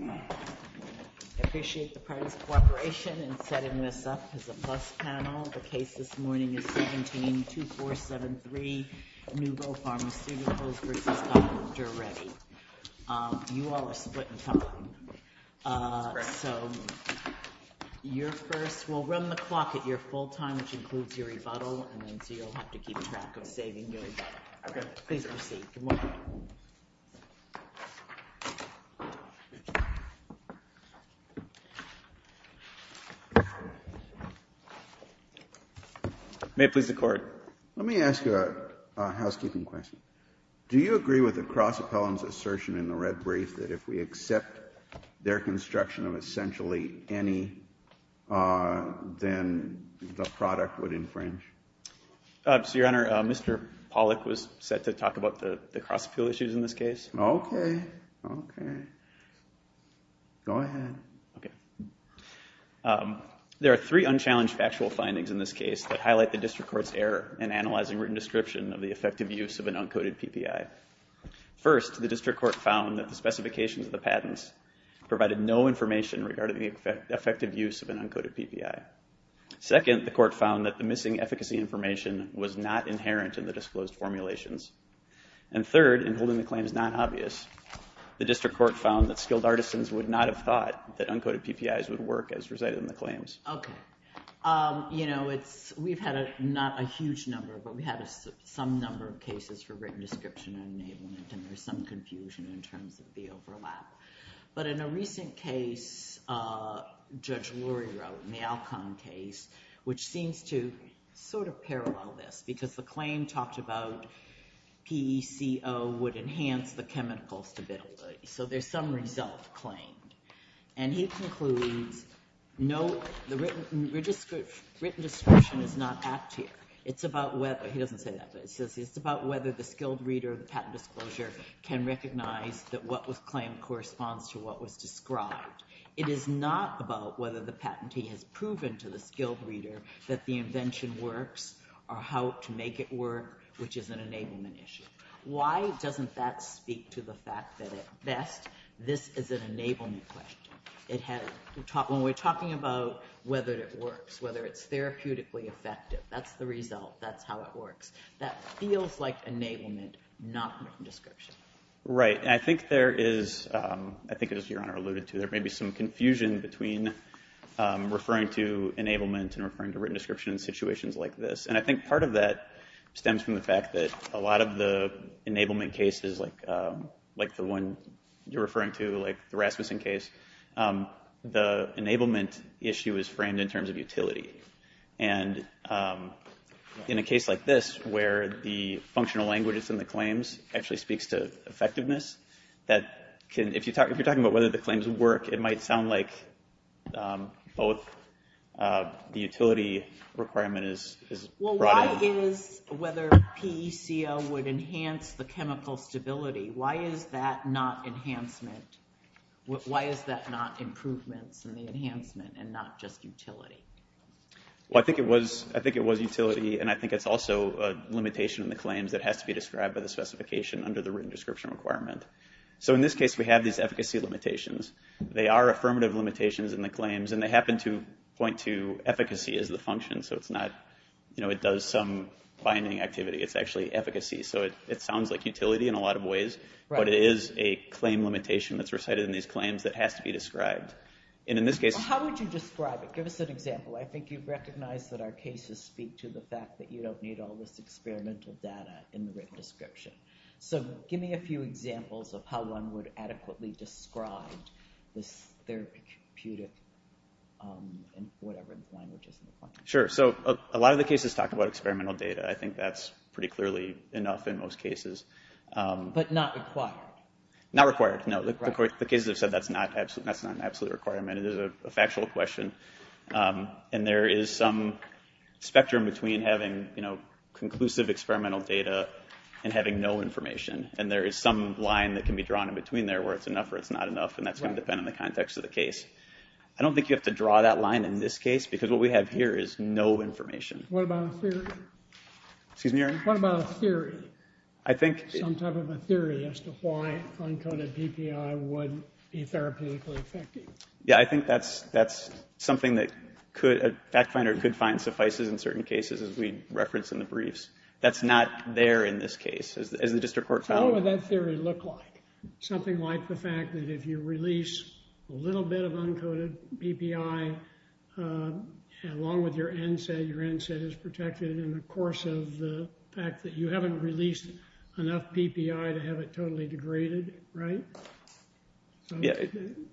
I appreciate the partnership and setting this up as a plus panel. The case this morning is 172473 Newville Pharmaceuticals v. Dr. Reddy. You all are split in time. So, you're first. We'll run the clock at your full time, which includes your rebuttal, and then you'll have to keep track of the dating date. Please proceed. Good morning. May it please the Court. Let me ask you a housekeeping question. Do you agree with the cross appellant's assertion in the red brief that if we accept their construction of essentially any, then the product would infringe? Your Honor, Mr. Pollack was set to talk about the cross appeal issues in this case. Okay. Okay. Go ahead. There are three unchallenged factual findings in this case that highlight the district court's error in analyzing written description of the effective use of an uncoded PPI. First, the district court found that the specifications of the patents provided no information regarding the effective use of an uncoded PPI. Second, the court found that the missing efficacy information was not inherent in the disclosed formulations. And third, in holding the claims non-obvious, the district court found that skilled artisans would not have thought that uncoded PPIs would work as presided in the claims. Okay. You know, we've had not a huge number, but we've had some number of cases for written description and there's some confusion in terms of the overlap. But in a recent case, Judge Lurie wrote in the Alcon case, which seems to sort of parallel this, because the claim talked about PECO would enhance the chemical stability. So there's some result claimed. And he concludes, no, the written description is not active. It's about whether, he doesn't say that, but it says it's about whether the skilled reader of the patent disclosure can recognize that what was claimed corresponds to what was described. It is not about whether the patentee has proven to the skilled reader that the invention works or how to make it work, which is an enablement issue. Why doesn't that speak to the fact that, at best, this is an enablement question? When we're talking about whether it works, whether it's therapeutically effective, that's the result. That's how it works. That feels like enablement, not written description. Right. And I think there is, I think as Your Honor alluded to, there may be some confusion between referring to enablement and referring to written description in situations like this. And I think part of that stems from the fact that a lot of the enablement cases, like the one you're referring to, like the Rasmussen case, the enablement issue is framed in terms of utility. And in a case like this, where the functional language in the claims actually speaks to effectiveness, if you're talking about whether the claims work, it might sound like both the utility requirement is brought in. Well, why is whether PECL would enhance the chemical stability, why is that not enhancement? Why is that not improvement in the enhancement and not just utility? Well, I think it was utility, and I think it's also a limitation in the claims that has to be described by the specification under the written description requirement. So in this case, we have these efficacy limitations. They are affirmative limitations in the claims, and they happen to point to efficacy as the function. So it's not, you know, it does some binding activity. It's actually efficacy. So it sounds like utility in a lot of ways. Right. But it is a claim limitation that's recited in these claims that has to be described. And in this case… Well, how would you describe it? Give us an example. I think you've recognized that our cases speak to the fact that you don't need all this experimental data in the written description. So give me a few examples of how one would adequately describe this therapeutic, whatever its language is. Sure. So a lot of the cases talk about experimental data. I think that's pretty clearly enough in most cases. But not required. Not required. No. The cases have said that's not an absolute requirement. It is a factual question. And there is some spectrum between having, you know, conclusive experimental data and having no information. And there is some line that can be drawn in between there where it's enough or it's not enough. And that's going to depend on the context of the case. I don't think you have to draw that line in this case because what we have here is no information. What about a theory? Excuse me, Aaron? What about a theory? I think… Some type of a theory as to why uncoded DPI would be therapeutically effective. Yeah, I think that's something that a fact finder could find suffices in certain cases as we referenced in the briefs. That's not there in this case. How would that theory look like? Something like the fact that if you release a little bit of uncoded PPI along with your NSAID, your NSAID is protected in the course of the fact that you haven't released enough PPI to have it totally degraded, right? Yeah.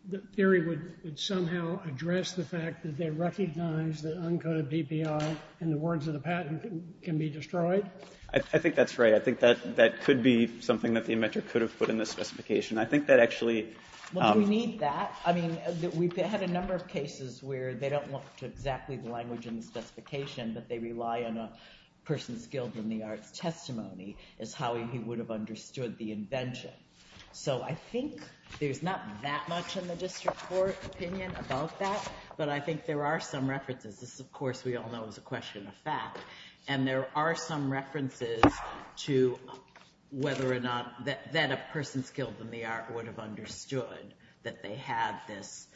The theory would somehow address the fact that they recognize that uncoded PPI in the words of the patent can be destroyed? I think that's right. I think that could be something that the inventor could have put in the specification. I think that actually… Well, we need that. I mean, we've had a number of cases where they don't look to exactly the language in the specification, but they rely on a person's skills in the art of testimony is how he would have understood the invention. So, I think there's not that much in the district court opinion about that, but I think there are some references. This, of course, we all know is a question of fact, and there are some references to whether or not that a person's skills in the art would have understood that they have this.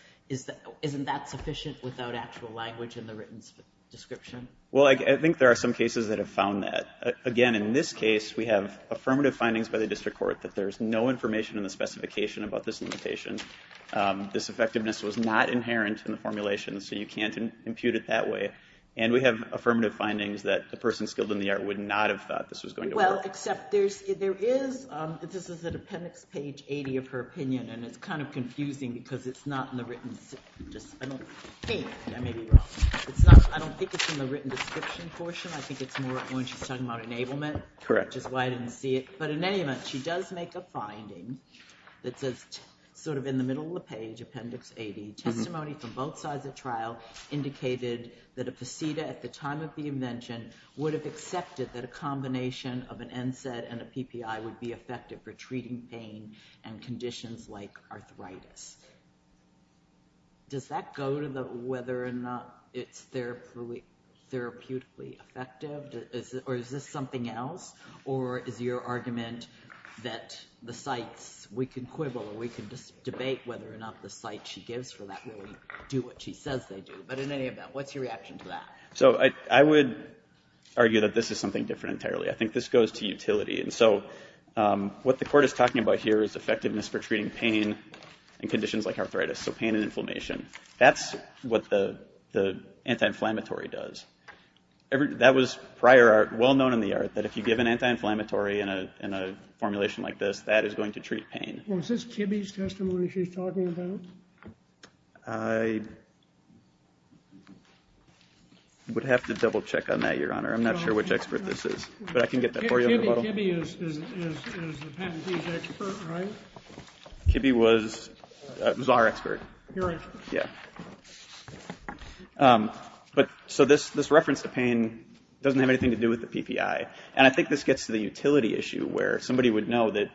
Isn't that sufficient without actual language in the written description? Well, I think there are some cases that have found that. Again, in this case, we have affirmative findings by the district court that there's no information in the specification about this invention. This effectiveness was not inherent in the formulation, so you can't compute it that way. And we have affirmative findings that the person's skills in the art would not have thought this was going to work. Well, except there is – this is at appendix page 80 of her opinion, and it's kind of confusing because it's not in the written – I don't think it's in the written description portion. I think it's more when she's talking about enablement. Correct. Which is why I didn't see it. But in any event, she does make a finding that says sort of in the middle of the page, appendix 80, testimony from both sides of trial indicated that a placebo at the time of the invention would have accepted that a combination of an NSAID and a PPI would be effective for treating pain and conditions like arthritis. Does that go to whether or not it's therapeutically effective? Or is this something else? Or is your argument that the site – we can quibble or we can just debate whether or not the site she gives for that will do what she says they do? But in any event, what's your reaction to that? So I would argue that this is something different entirely. I think this goes to utility. And so what the court is talking about here is the effectiveness for treating pain and conditions like arthritis, so pain and inflammation. That's what the anti-inflammatory does. That was prior art, well-known in the art, that if you give an anti-inflammatory in a formulation like this, that is going to treat pain. Was this Kibbe's testimony she's talking about? I would have to double-check on that, Your Honor. I'm not sure which expert this is. But I can get that for you. Kibbe was our expert. So this reference to pain doesn't have anything to do with the PPI. And I think this gets to the utility issue where somebody would know that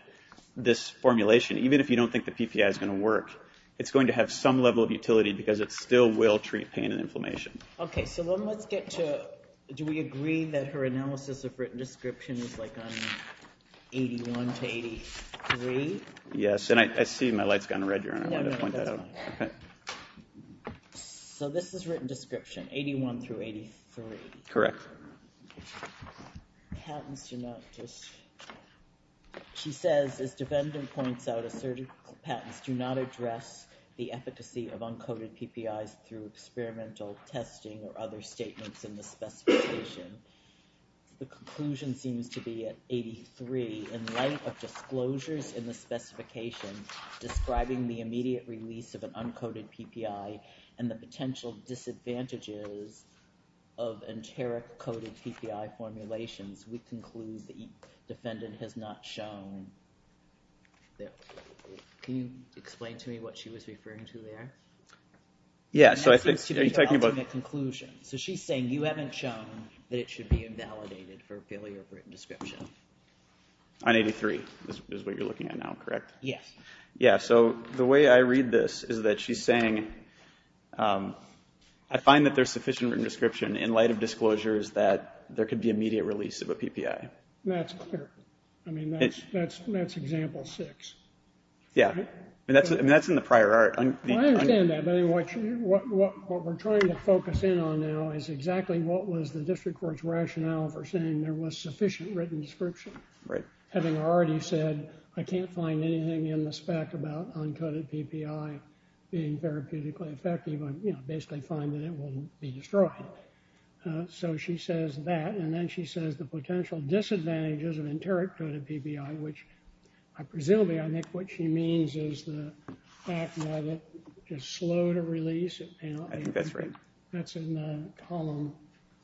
this formulation, even if you don't think the PPI is going to work, it's going to have some level of utility because it still will treat pain and inflammation. Okay, so then let's get to, do we agree that her analysis of written description is like on 81 to 83? Yes, and I see my light's gone red, Your Honor. Let me point that out. So this is written description, 81 through 83. Correct. She says, as the defendant points out, a certain patent do not address the efficacy of uncoated PPI through experimental testing or other statements in the specification. The conclusion seems to be at 83. In light of disclosures in the specification describing the immediate release of an uncoated PPI and the potential disadvantages of enteric-coated PPI formulations, we conclude the defendant has not shown this. Can you explain to me what she was referring to there? Yes. So she's saying you haven't shown that it should be invalidated for failure of written description. On 83 is what you're looking at now, correct? Yes. Yeah, so the way I read this is that she's saying, I find that there's sufficient written description in light of disclosures that there could be immediate release of a PPI. That's clear. I mean, that's example six. Yeah, and that's in the prior art. I understand that. But what we're trying to focus in on now is exactly what was the district court's rationale for saying there was sufficient written description. Right. Having already said, I can't find anything in the spec about uncoated PPI being therapeutically effective. I basically find that it will be destroyed. So she says that. And then she says the potential disadvantage is an enteric-coated PPI, which presumably, I think what she means is the fact that it is slow to release. I think that's right. That's in column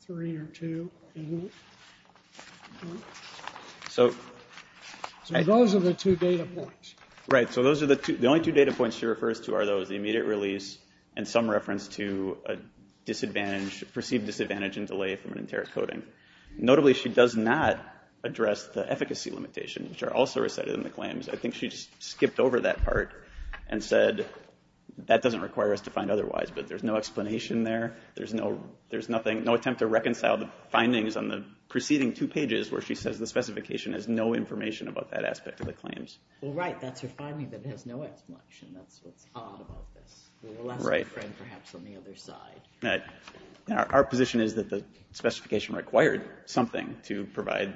three or two, isn't it? So those are the two data points. Right. So those are the two. The only two data points she refers to are those, the immediate release and some reference to a disadvantage, perceived disadvantage in delay from enteric-coating. Notably, she does not address the efficacy limitations, which are also recited in the claims. I think she skipped over that part and said that doesn't require us to find otherwise, but there's no explanation there. There's no attempt to reconcile the findings on the preceding two pages where she says the specification has no information about that aspect of the claims. Well, right. That's your finding, but it has no explanation. Right. Perhaps from the other side. Right. Our position is that the specification required something to provide,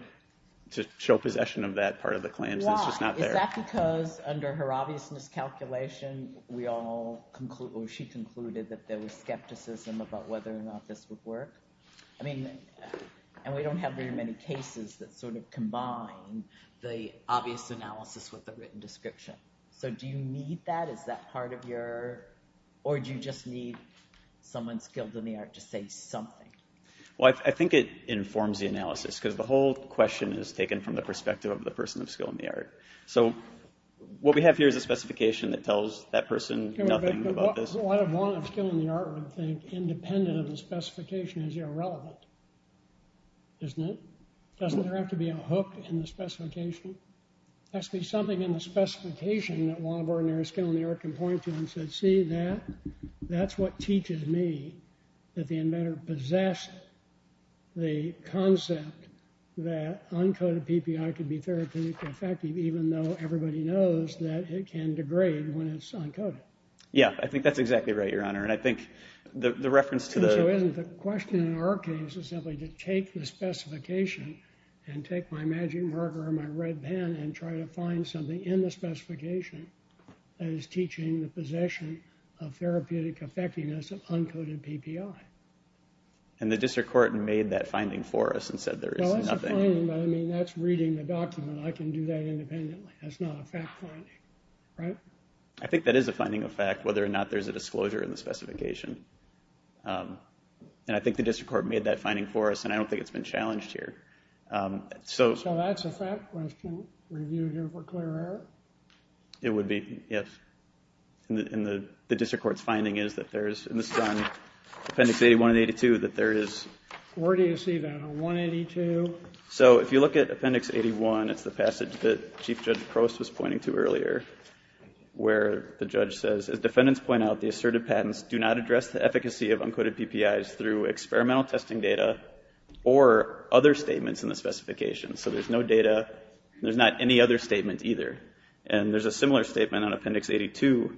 to show possession of that part of the claims, which is not there. Why? Is that because under her obvious miscalculation, we all conclude, or she concluded that there was skepticism about whether or not this would work? I mean, and we don't have very many cases that sort of combine the obvious analysis with a written description. So do you need that? Is that part of your – or do you just need someone skilled in the art to say something? Well, I think it informs the analysis, because the whole question is taken from the perspective of the person of skill in the art. So what we have here is a specification that tells that person nothing about this. Doesn't a lot of law and skill in the art world think independent of the specification is irrelevant? Doesn't it? Doesn't there have to be a hook in the specification? Has to be something in the specification that law and ordinary skill in the art can point to and say, see that? That's what teaches me that the inventor possessed the concept that uncoded PPI can be therapeutically effective, even though everybody knows that it can degrade when it's uncoded. Yeah, I think that's exactly right, Your Honor, and I think the reference to the – The question in our case is simply to take the specification and take my magic marker and my red pen and try to find something in the specification that is teaching the possession of therapeutic effectiveness of uncoded PPI. And the district court made that finding for us and said there is nothing. No, it's a finding, but I mean, that's reading the document. I can do that independently. That's not a fact finding, right? I think that is a finding of fact, whether or not there's a disclosure in the specification. And I think the district court made that finding for us, and I don't think it's been challenged here. So that's a fact question reviewed here for clear error? It would be, yes. And the district court's finding is that there is in this appendix 81 and 82 that there is – Where do you see that? 182? So if you look at appendix 81, it's the passage that Chief Judge Crowse was pointing to earlier where the judge says, as defendants point out, the assertive patents do not address the efficacy of uncoded PPIs through experimental testing data or other statements in the specification. So there's no data. There's not any other statement either. And there's a similar statement on appendix 82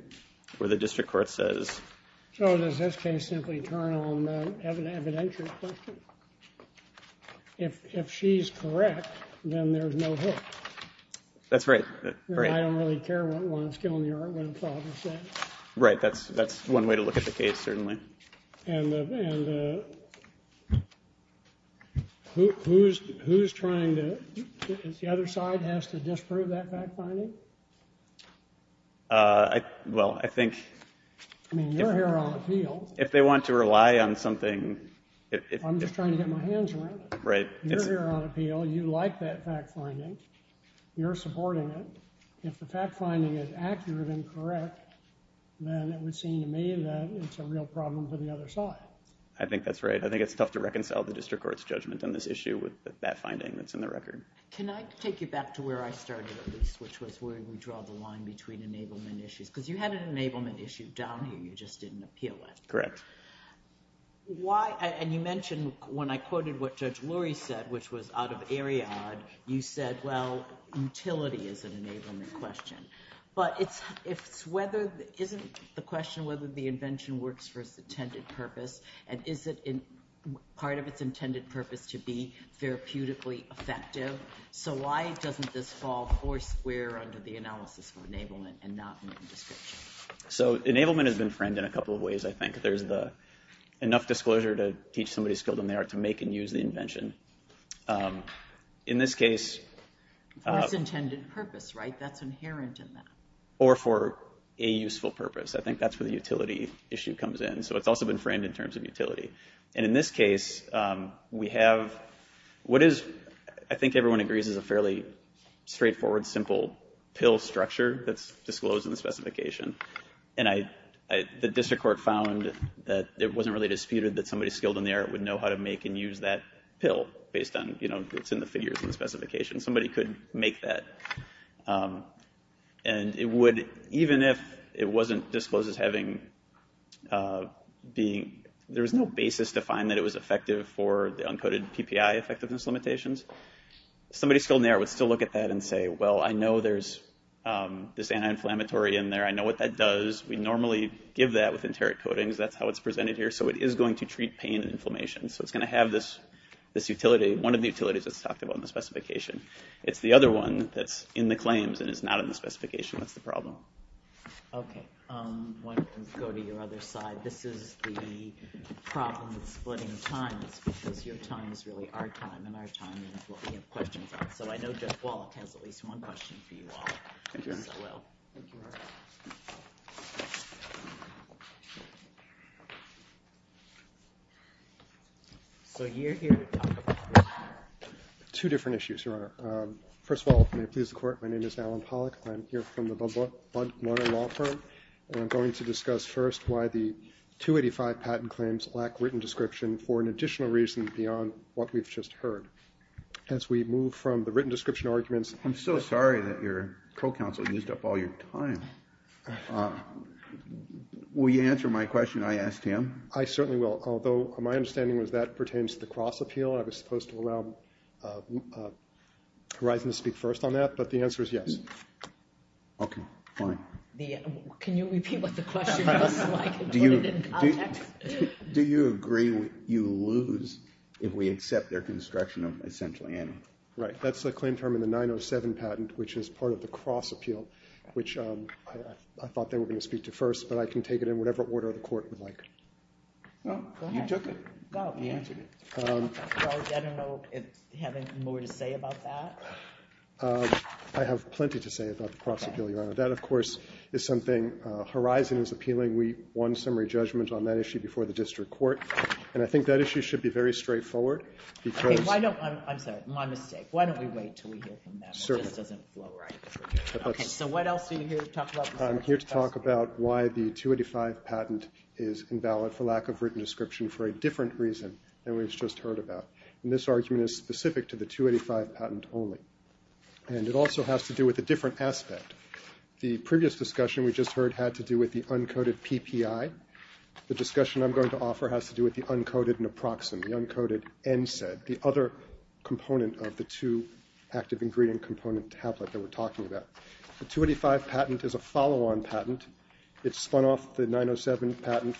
where the district court says – So does this case simply turn on evidentiary questions? If she's correct, then there's no hit. That's right. I don't really care what one's doing here. Right. That's one way to look at the case, certainly. And who's trying to – the other side has to disprove that fact finding? Well, I think – I mean, we're here on appeal. If they want to rely on something – I'm just trying to get my hands around it. Right. You're here on appeal. You like that fact finding. You're supporting it. If the fact finding is accurate and correct, then it would seem to me that it's a real problem for the other side. I think that's right. I think it's tough to reconcile the district court's judgment on this issue with that finding that's in the record. Can I take you back to where I started, at least, which was where we draw the line between enablement issues? Because you had an enablement issue down here you just didn't appeal with. Correct. Why – and you mentioned when I quoted what Judge Lurie said, which was out of Ariadne, you said, well, utility is an enablement question. But it's whether – isn't the question whether the invention works for its intended purpose? And is it part of its intended purpose to be therapeutically effective? So why doesn't this fall foursquare under the analysis of enablement and not within the district? So enablement has been framed in a couple of ways, I think. There's the – enough disclosure to teach somebody a skill to merit to make and use the invention. In this case – That's intended purpose, right? That's inherent in that. Or for a useful purpose. I think that's where the utility issue comes in. So it's also been framed in terms of utility. And in this case, we have – what is – I think everyone agrees it's a fairly straightforward, simple pill structure that's disclosed in the specification. And I – the district court found that it wasn't really disputed that somebody skilled in there would know how to make and use that pill based on, you know, what's in the figures in the specification. Somebody could make that. And it would – even if it wasn't disclosed as having the – there was no basis to find that it was effective for the uncoated TPI effectiveness limitations, somebody skilled in there would still look at that and say, well, I know there's this anti-inflammatory in there. I know what that does. We normally give that with enteric coatings. That's how it's presented here. So it is going to treat pain and inflammation. So it's going to have this utility – one of the utilities that's talked about in the specification. It's the other one that's in the claims and it's not in the specification. That's the problem. Okay. I'm going to go to your other slide. This is the problem of splitting time. Because your time is really our time, and our time is what we have questions on. So I know Jeff Wall has at least one question for you all. Thank you very much. Thank you. So here we talk about two different issues. First of all, if you'll excuse the court, my name is Alan Pollack. I'm here from the Budweiser Law Firm, and I'm going to discuss first why the 285 patent claims lack written description for an additional reason beyond what we've just heard. As we move from the written description arguments – I'm so sorry that your co-counsel used up all your time. Will you answer my question I asked him? I certainly will. Although my understanding is that pertains to the cross-appeal. I was supposed to allow Horizon to speak first on that, but the answer is yes. Okay, fine. Can you repeat what the question was? Do you agree you lose if we accept their construction of essentially any? Right. That's the claim term in the 907 patent, which is part of the cross-appeal, which I thought they were going to speak to first, but I can take it in whatever order the court would like. Go ahead. You took it. I don't know if you have more to say about that. I have plenty to say about the cross-appeal, Your Honor. That, of course, is something Horizon is appealing. We won summary judgments on that issue before the district court, and I think that issue should be very straightforward because – I'm sorry. Why don't we wait until we hear from them? Certainly. Okay, so what else are you here to talk about? I'm here to talk about why the 285 patent is invalid for lack of written description for a different reason than we've just heard about, and this argument is specific to the 285 patent only, and it also has to do with a different aspect. The previous discussion we just heard had to do with the uncoded PPI. The discussion I'm going to offer has to do with the uncoded naproxen, the uncoded NSAID, the other component of the two active ingredient component tablet that we're talking about. The 285 patent is a follow-on patent. It spun off the 907 patent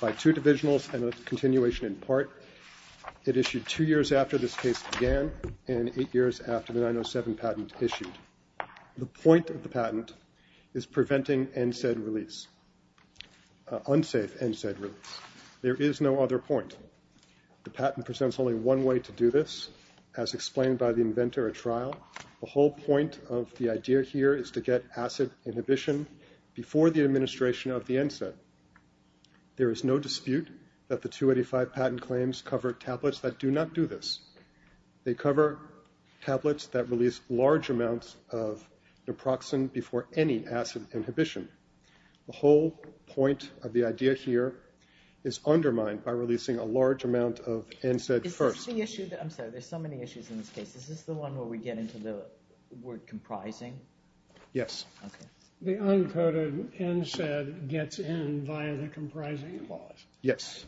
by two divisionals and a continuation in part. It issued two years after this case began and eight years after the 907 patent issued. The point of the patent is preventing NSAID release, unsafe NSAID release. There is no other point. The patent presents only one way to do this, as explained by the inventor or trial. The whole point of the idea here is to get acid inhibition before the administration of the NSAID. There is no dispute that the 285 patent claims cover tablets that do not do this. They cover tablets that release large amounts of naproxen before any acid inhibition. The whole point of the idea here is undermined by releasing a large amount of NSAID first. There's so many issues in this case. Is this the one where we get into the word comprising? Yes. The uncoded NSAID gets in via the comprising clause. Yes.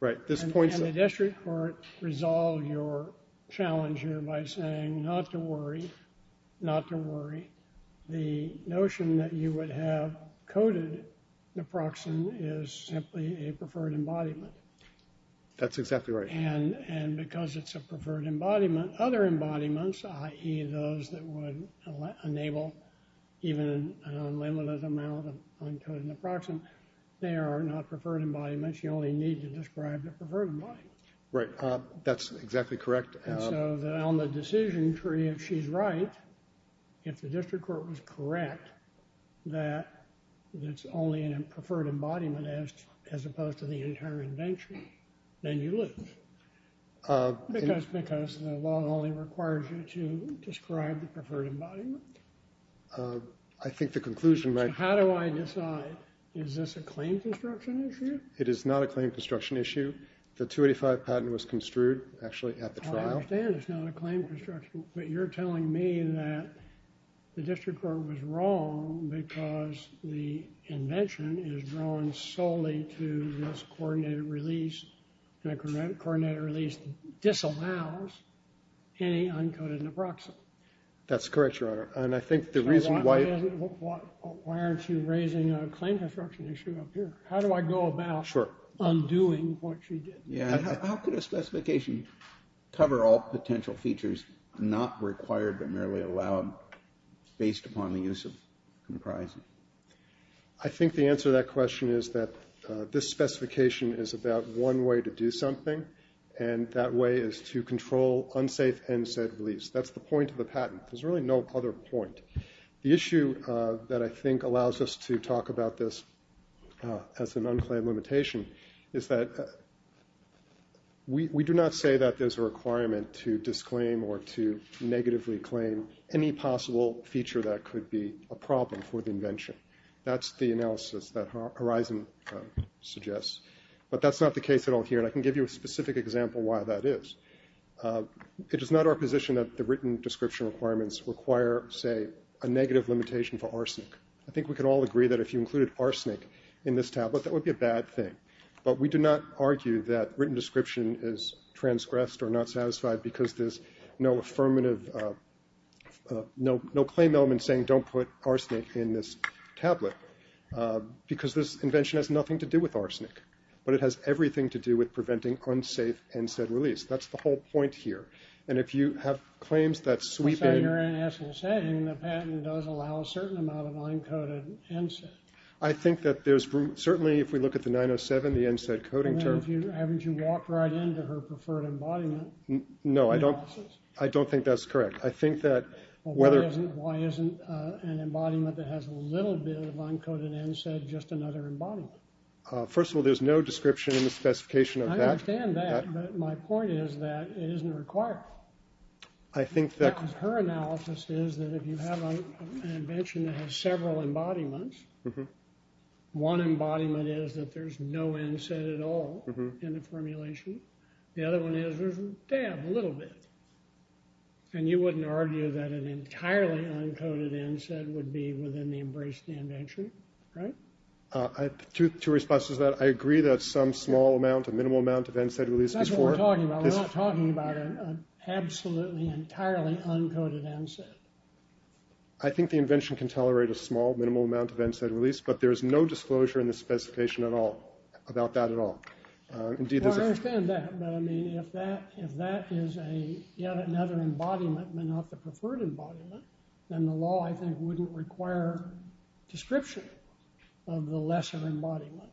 And the district court resolved your challenge here by saying not to worry, not to worry. The notion that you would have coded naproxen is simply a preferred embodiment. That's exactly right. And because it's a preferred embodiment, other embodiments, i.e. those that would enable even an unlimited amount of uncoded naproxen, they are not preferred embodiments. You only need to describe the preferred embodiment. Right. That's exactly correct. And so on the decision tree, if she's right, if the district court was correct, that it's only a preferred embodiment as opposed to the inherent nature, then you lose. Because the law only requires you to describe the preferred embodiment. I think the conclusion might be… How do I decide? Is this a claim construction issue? It is not a claim construction issue. The 285 patent was construed, actually, at the trial. I understand it's not a claim construction. But you're telling me that the district court was wrong because the invention is drawn solely to this coordinated release. And a coordinated release disallows any uncoded naproxen. That's correct, Your Honor. And I think the reason why… Why aren't you raising a claim construction issue up here? How do I go about undoing what you did? How could a specification cover all potential features not required but merely allowed based upon the use of comprising? I think the answer to that question is that this specification is about one way to do something, and that way is to control unsafe and safe release. That's the point of the patent. There's really no other point. The issue that I think allows us to talk about this as an unclaimed limitation is that we do not say that there's a requirement to disclaim or to negatively claim any possible feature that could be a problem for the invention. That's the analysis that Horizon suggests. But that's not the case at all here, and I can give you a specific example why that is. It is not our position that the written description requirements require, say, a negative limitation for arsenic. I think we can all agree that if you included arsenic in this tablet, that would be a bad thing. But we do not argue that written description is transgressed or not satisfied because there's no affirmative… no claim element saying don't put arsenic in this tablet because this invention has nothing to do with arsenic, but it has everything to do with preventing unsafe NSAID release. That's the whole point here. And if you have claims that sweep in… So you're saying the patent does allow a certain amount of uncoated NSAID. I think that there's… certainly if we look at the 907, the NSAID coding term… I mean, haven't you walked right into her preferred embodiment? No, I don't think that's correct. I think that whether… Well, why isn't an embodiment that has a little bit of uncoated NSAID just another embodiment? First of all, there's no description in the specification of that. I understand that, but my point is that it isn't required. I think that… Her analysis is that if you have an invention that has several embodiments, one embodiment is that there's no NSAID at all in the formulation. The other one is there's a little bit. And you wouldn't argue that an entirely uncoated NSAID would be within the embrace of the invention, right? Two responses to that. I agree that some small amount, a minimal amount of NSAID release is… That's what we're talking about. We're not talking about an absolutely entirely uncoated NSAID. I think the invention can tolerate a small, minimal amount of NSAID release, but there's no disclosure in the specification at all about that at all. I understand that, but I mean, if that is yet another embodiment and not the preferred embodiment, then the law, I think, wouldn't require a description of the lesser embodiment.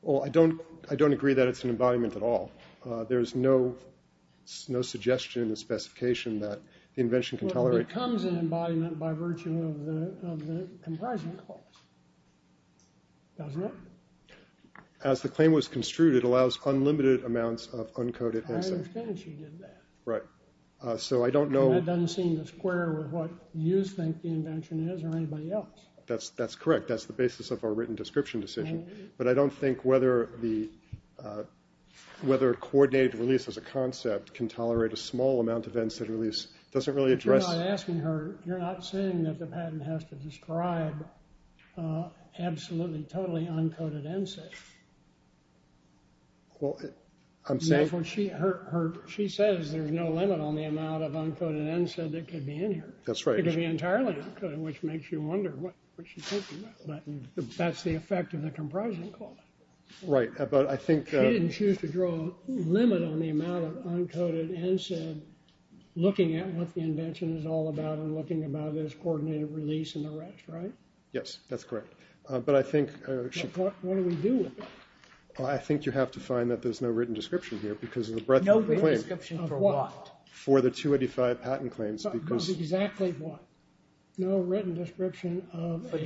Well, I don't agree that it's an embodiment at all. There's no suggestion in the specification that the invention can tolerate… Well, it becomes an embodiment by virtue of the enticing clause. Doesn't it? As the claim was construed, it allows unlimited amounts of uncoated NSAID. I understand she did that. Right. So I don't know… It doesn't seem to square with what you think the invention is or anybody else. That's correct. That's the basis of our written description decision. But I don't think whether coordinated release as a concept can tolerate a small amount of NSAID release doesn't really address… You're not asking her. You're not saying that the patent has to describe absolutely totally uncoated NSAID. Well, I'm saying… She says there's no limit on the amount of uncoated NSAID that could be in here. That's right. It could be entirely uncoated, which makes you wonder what she's talking about. That's the effect of the comprising clause. Right. But I think… She didn't choose to draw a limit on the amount of uncoated NSAID looking at what the invention is all about and looking about this coordinated release and the rest, right? Yes, that's correct. But I think… What do we do? I think you have to find that there's no written description here because of the breadth of the claim. No written description of what? For the 285 patent claims because… Exactly what? No written description of a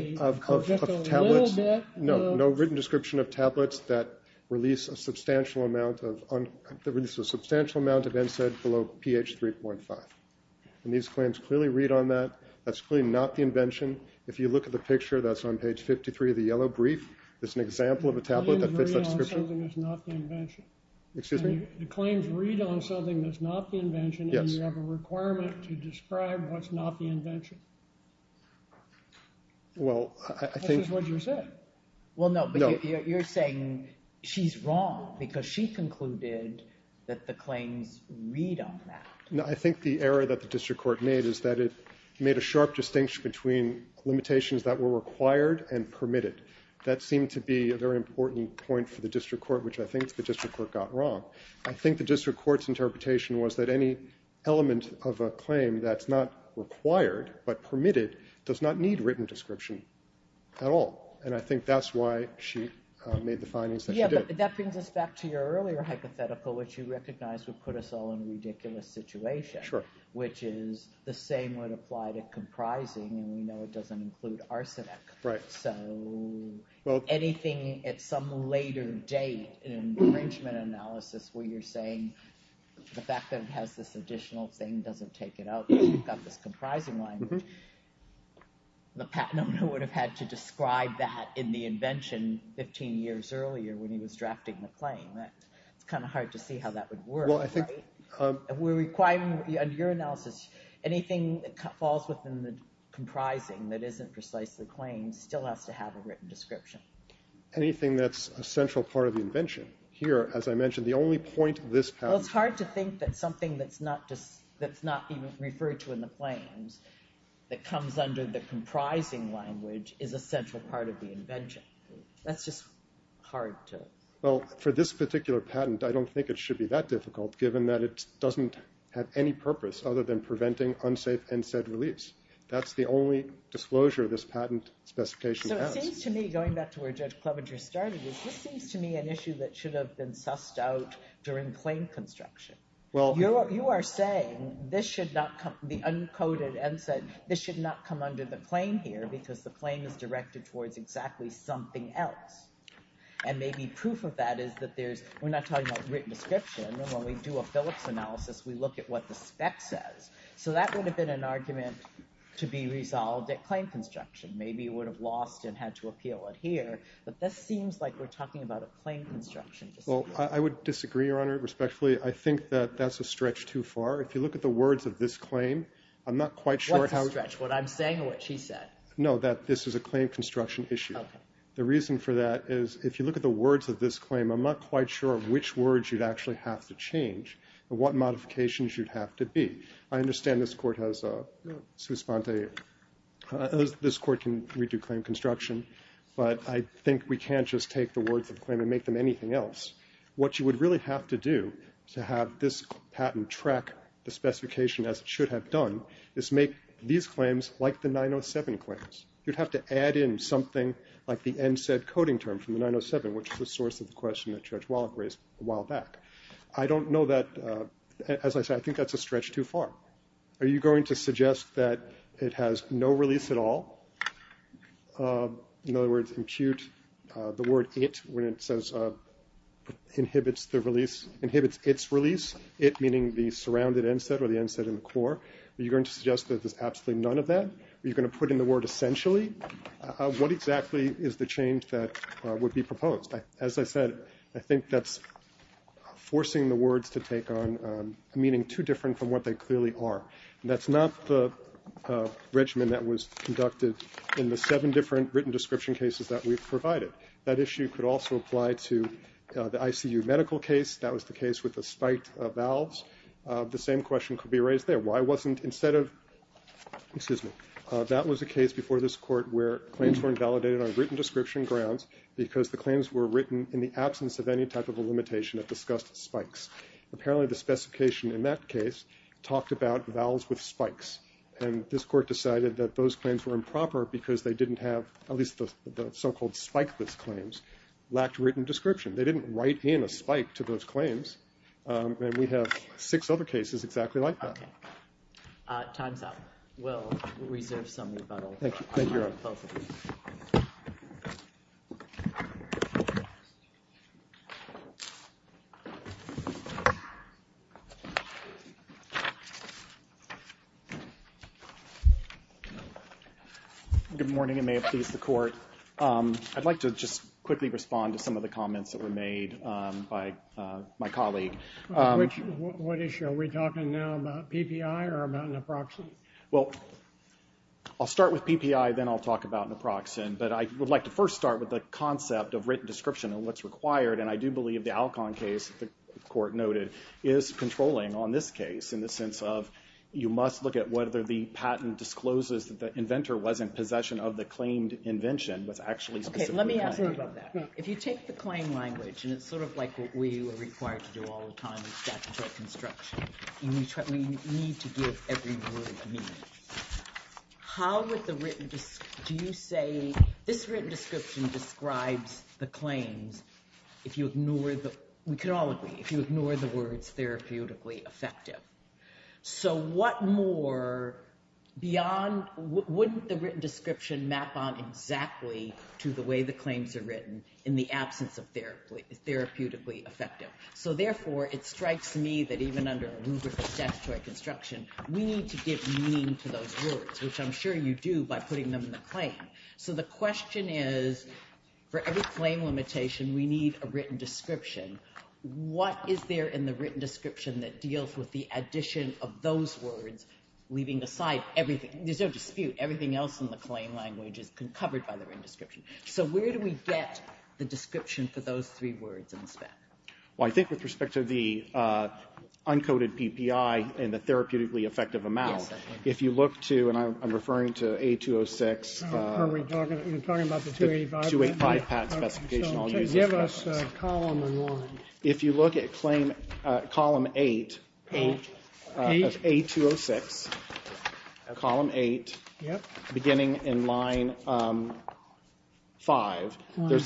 little bit… No, no written description of tablets that release a substantial amount of NSAID below pH 3.15. And these claims clearly read on that. That's clearly not the invention. If you look at the picture, that's on page 53 of the yellow brief. It's an example of a tablet that fits that description. It claims to read on something that's not the invention. Excuse me? It claims to read on something that's not the invention and you have a requirement to describe what's not the invention. Well, I think… That's just what you said. Well, no, but you're saying she's wrong because she concluded that the claims read on that. No, I think the error that the district court made is that it made a sharp distinction between limitations that were required and permitted. That seemed to be a very important point for the district court, which I think the district court got wrong. I think the district court's interpretation was that any element of a claim that's not required but permitted does not need written description at all. And I think that's why she made the findings that she did. Yeah, but that brings us back to your earlier hypothetical, which you recognized would put us all in a ridiculous situation… Sure. …which is the same would apply to comprising, and it doesn't include arsenic. Right. So anything at some later date in arrangement analysis where you're saying the fact that it has this additional thing doesn't take it out because it's got that comprising line… Mm-hmm. …the patent owner would have had to describe that in the invention 15 years earlier when he was drafting the claim. It's kind of hard to see how that would work. Well, I think… We're requiring, under your analysis, anything that falls within the comprising that isn't precisely the claim still has to have a written description. Anything that's a central part of the invention. Here, as I mentioned, the only point this has… Well, it's hard to think that something that's not being referred to in the claims that comes under the comprising language is a central part of the invention. That's just hard to… Well, for this particular patent, I don't think it should be that difficult given that it doesn't have any purpose other than preventing unsafe NSAID release. That's the only disclosure this patent specification has. So it seems to me, going back to where Judge Clevenger started, it just seems to me an issue that should have been sussed out during claim construction. Well… What you are saying, this should not be uncoded NSAID. This should not come under the claim here because the claim is directed towards exactly something else. And maybe proof of that is that there's – we're not talking about written description. When we do a Phillips analysis, we look at what the spec says. So that would have been an argument to be resolved at claim construction. Maybe it would have lost and had to appeal it here, but this seems like we're talking about a claim construction. Well, I would disagree, Your Honor, respectfully. I think that that's a stretch too far. If you look at the words of this claim, I'm not quite sure how… What's a stretch? What I'm saying or what she said? No, that this is a claim construction issue. Okay. The reason for that is if you look at the words of this claim, I'm not quite sure of which words you'd actually have to change or what modifications you'd have to be. I understand this court has a… No. Suspende. This court can redo claim construction, but I think we can't just take the words of the claim and make them anything else. What you would really have to do to have this patent track the specification as it should have done is make these claims like the 907 claims. You'd have to add in something like the end said coding term from the 907, which is the source of the question that Judge Wallach raised a while back. I don't know that… As I said, I think that's a stretch too far. Are you going to suggest that it has no release at all? In other words, impute the word it when it says inhibits the release, inhibits its release, it meaning the surrounded end set or the end set in the core. Are you going to suggest that there's absolutely none of that? Are you going to put in the word essentially? What exactly is the change that would be proposed? As I said, I think that's forcing the words to take on meaning too different from what they clearly are. That's not the regimen that was conducted in the seven different written description cases that we've provided. That issue could also apply to the ICU medical case. That was the case with the spike valves. The same question could be raised there. Why wasn't instead of… Excuse me. That was a case before this court where claims were invalidated on written description grounds because the claims were written in the absence of any type of a limitation that discussed spikes. Apparently, the specification in that case talked about valves with spikes, and this court decided that those claims were improper because they didn't have at least the so-called spike-less claims lacked written description. They didn't write in a spike to those claims, and we have six other cases exactly like that. Time's up. We'll reserve some of that. Thank you. Thank you. Good morning, and may it please the court. I'd like to just quickly respond to some of the comments that were made by my colleague. What issue? Are we talking now about PPI or about an approximate? Well, I'll start with PPI, then I'll talk about an approximate, but I would like to first start with the concept of written description and what's required, and I do believe the Alcon case, the court noted, is controlling on this case in the sense of you must look at whether the patent discloses that the inventor was in possession of the claimed invention was actually… Okay, let me ask you about that. If you take the claim language, and it's sort of like what we were required to do all the time in statutory construction. We need to give every word meaning. How would the written… Do you say this written description describes the claim if you ignore the… We can all agree, if you ignore the words therapeutically effective. So what more beyond… Wouldn't the written description map on exactly to the way the claims are written in the absence of therapeutically effective? So therefore, it strikes me that even under a rubric of statutory construction, we need to give meaning to those words, which I'm sure you do by putting them in the claim. So the question is, for every claim limitation, we need a written description. What is there in the written description that deals with the addition of those words, leaving aside everything? There's no dispute, everything else in the claim language is covered by the written description. So where do we get the description for those three words instead? Well, I think with respect to the uncoded PPI and the therapeutically effective amount, if you look to, and I'm referring to A-206… Are we talking about the 285? 285 patent specification. Give us a column and line. There's a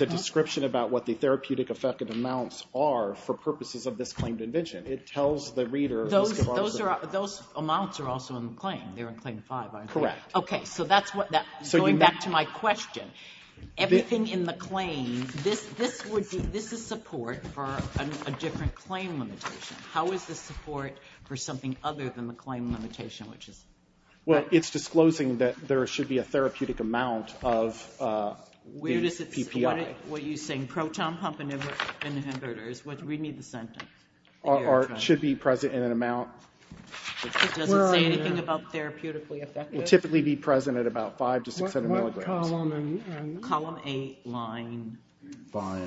description about what the therapeutic effective amounts are for purposes of this claimed invention. It tells the reader… Those amounts are also in the claim. Correct. Okay, so going back to my question, everything in the claim, this is support for a different claim limitation. How is this support for something other than the claim limitation? Well, it's disclosing that there should be a therapeutic amount of the PPI. What are you saying, proton pump inhibitors? Read me the sentence. Or it should be present in an amount… It doesn't say anything about therapeutically effective. It would typically be present at about 5 to 6 milligrams. What column are you in? Column 8, line 5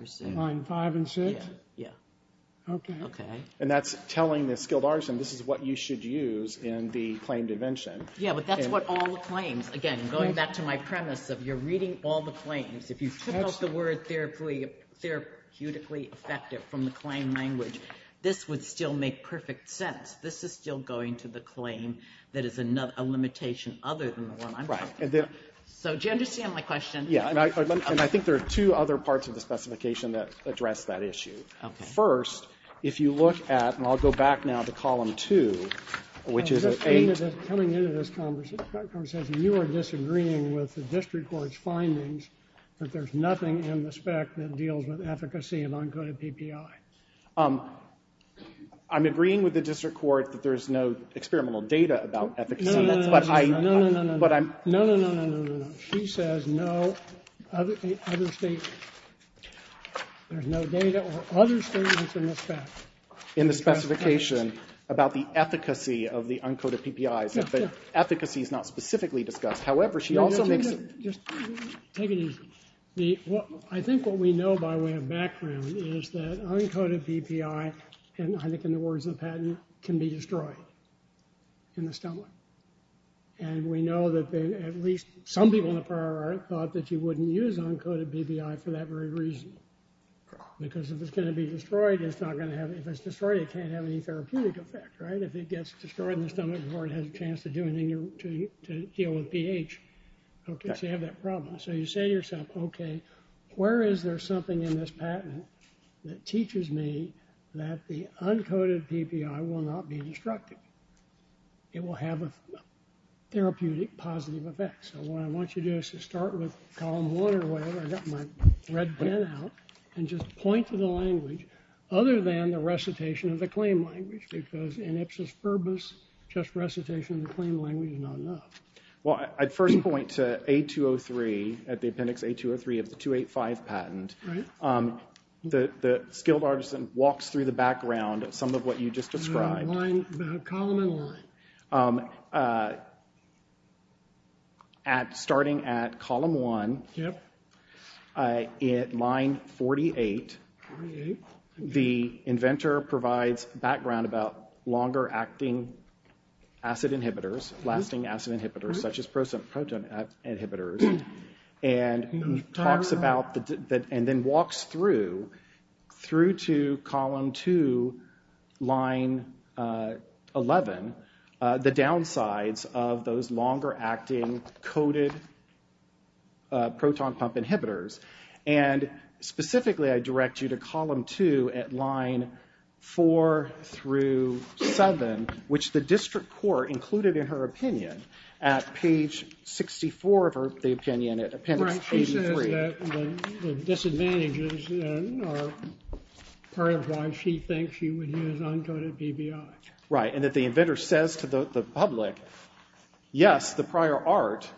or 6. Line 5 and 6? Yeah. Okay. And that's telling the skilled artisan this is what you should use in the claimed invention. Yeah, but that's what all the claims… Again, going back to my premise of you're reading all the claims. If you chose the word therapeutically effective from the claim language, this would still make perfect sense. This is still going to the claim that is a limitation other than the one I'm talking about. Right. So do you understand my question? Yeah, and I think there are two other parts of the specification that address that issue. First, if you look at, and I'll go back now to column 2, which is a… Coming into this conversation, you are disagreeing with the district court's findings that there's nothing in the spec that deals with efficacy of uncoded PPI. I'm agreeing with the district court that there's no experimental data about efficacy. No, no, no, no, no, no, no, no, no. There's no data or other evidence in this fact. In the specification about the efficacy of the uncoded PPI. Yes, yes. But efficacy is not specifically discussed. However, she also mentioned… Just take it easy. I think what we know by way of background is that uncoded PPI, and I think in the words of Patton, can be destroyed in the stomach. And we know that at least some people in the fire department thought that you wouldn't use uncoded PPI for that very reason. Because if it's going to be destroyed, it's not going to have… If it's destroyed, it can't have any therapeutic effect. Right? If it gets destroyed in the stomach before it has a chance to deal with pH, okay, so you have that problem. So you say to yourself, okay, where is there something in this patent that teaches me that the uncoded PPI will not be destructive? It will have a therapeutic positive effect. So what I want you to do is to start with column one or whatever. I've got my red pen out. And just point to the language other than the recitation of the claim language. Because in Ipsos-Ferbus, just recitation of the claim language is not enough. Well, I'd first point to A203, at the appendix A203 of the 285 patent. Right. The skilled artisan walks through the background of some of what you just described. Column and line. Starting at column one, line 48, the inventor provides background about longer-acting acid inhibitors, lasting acid inhibitors, such as proton inhibitors, and then walks through to column two, line 11, the downsides of those longer-acting coded proton pump inhibitors. And specifically, I direct you to column two at line four through seven, which the district court included in her opinion at page 64 of the opinion at appendix A203. Right. She says that the disadvantages are part of why she thinks she would use uncoded PPI. Right. And that the inventor says to the public, yes, the prior art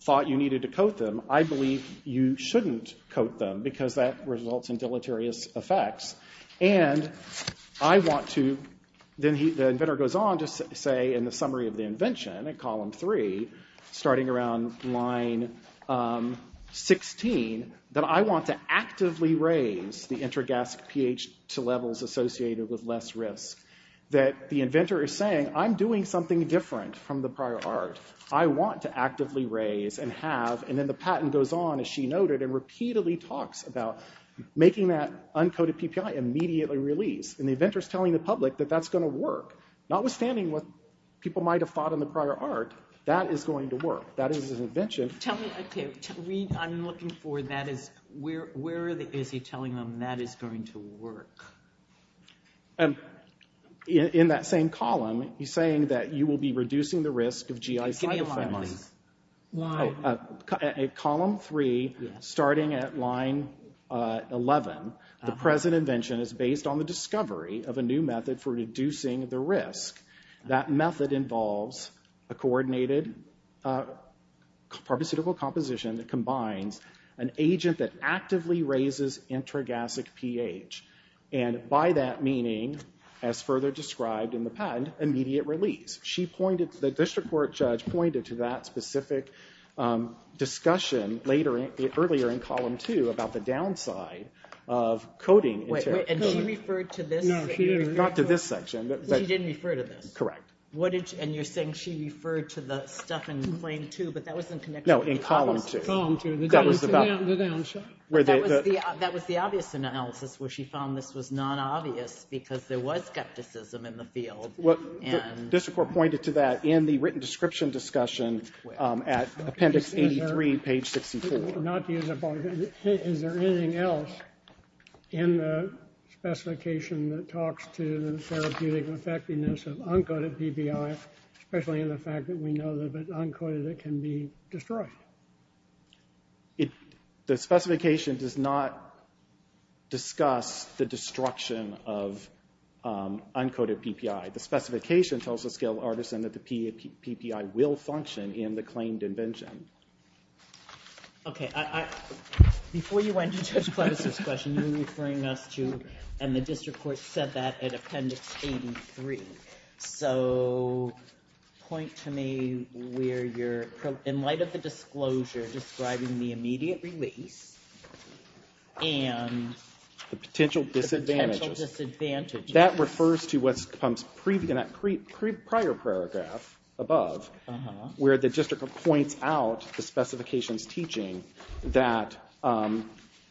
thought you needed to code them. I believe you shouldn't code them because that results in deleterious effects. And I want to – then the inventor goes on to say in the summary of the invention at column three, starting around line 16, that I want to actively raise the intragast pH to levels associated with less risk. That the inventor is saying, I'm doing something different from the prior art. I want to actively raise and have – and then the patent goes on, as she noted, and repeatedly talks about making that uncoded PPI immediately released. And the inventor is telling the public that that's going to work. Notwithstanding what people might have thought in the prior art, that is going to work. That is an invention. Tell me, I'm looking for that. Where is he telling them that is going to work? And in that same column, he's saying that you will be reducing the risk of GI fibromyalgia. Why? At column three, starting at line 11, the present invention is based on the discovery of a new method for reducing the risk. That method involves a coordinated pharmaceutical composition that combines an agent that actively raises intragastic pH. And by that meaning, as further described in the patent, immediate release. She pointed – the district court judge pointed to that specific discussion earlier in column two about the downside of coding. And she referred to this section. She didn't refer to this. Correct. And you're saying she referred to the stuff in claim two, but that was in connection with column two. No, in column two. Column two, the downside. That was the obvious analysis where she found this was not obvious because there was skepticism in the field. The district court pointed to that in the written description discussion at appendix 83, page 64. Is there anything else in the specification that talks to the therapeutic effectiveness of uncoded PPI, especially in the fact that we know that it's uncoded, it can be destroyed? The specification does not discuss the destruction of uncoded PPI. The specification tells the scale artisan that the PPI will function in the claimed invention. Okay. Before you went to Judge Kley's discussion, you were referring up to – and the district court said that at appendix 83. So point to me where you're – in light of the disclosure describing the immediate release and the potential disadvantages. That refers to what comes in that prior paragraph above where the district court points out the specification's teaching that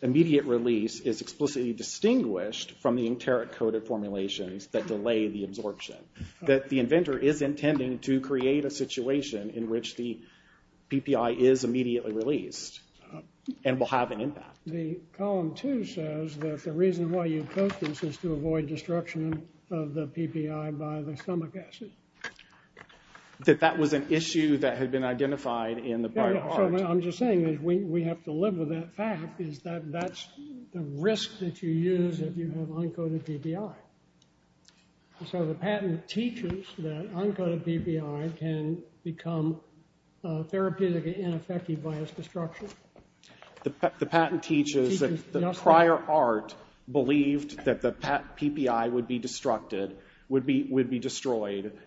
immediate release is explicitly distinguished from the interic coded formulations that delay the absorption. That the inventor is intending to create a situation in which the PPI is immediately released and will have an impact. The column two says that the reason why you post this is to avoid destruction of the PPI by the stomach acid. That that was an issue that had been identified in the prior part. I'm just saying that we have to live with that fact is that that's a risk that you use if you have uncoded PPI. So the patent teaches that uncoded PPI can become therapeutic and ineffective by its destruction. The patent teaches that the prior art believed that the PPI would be destroyed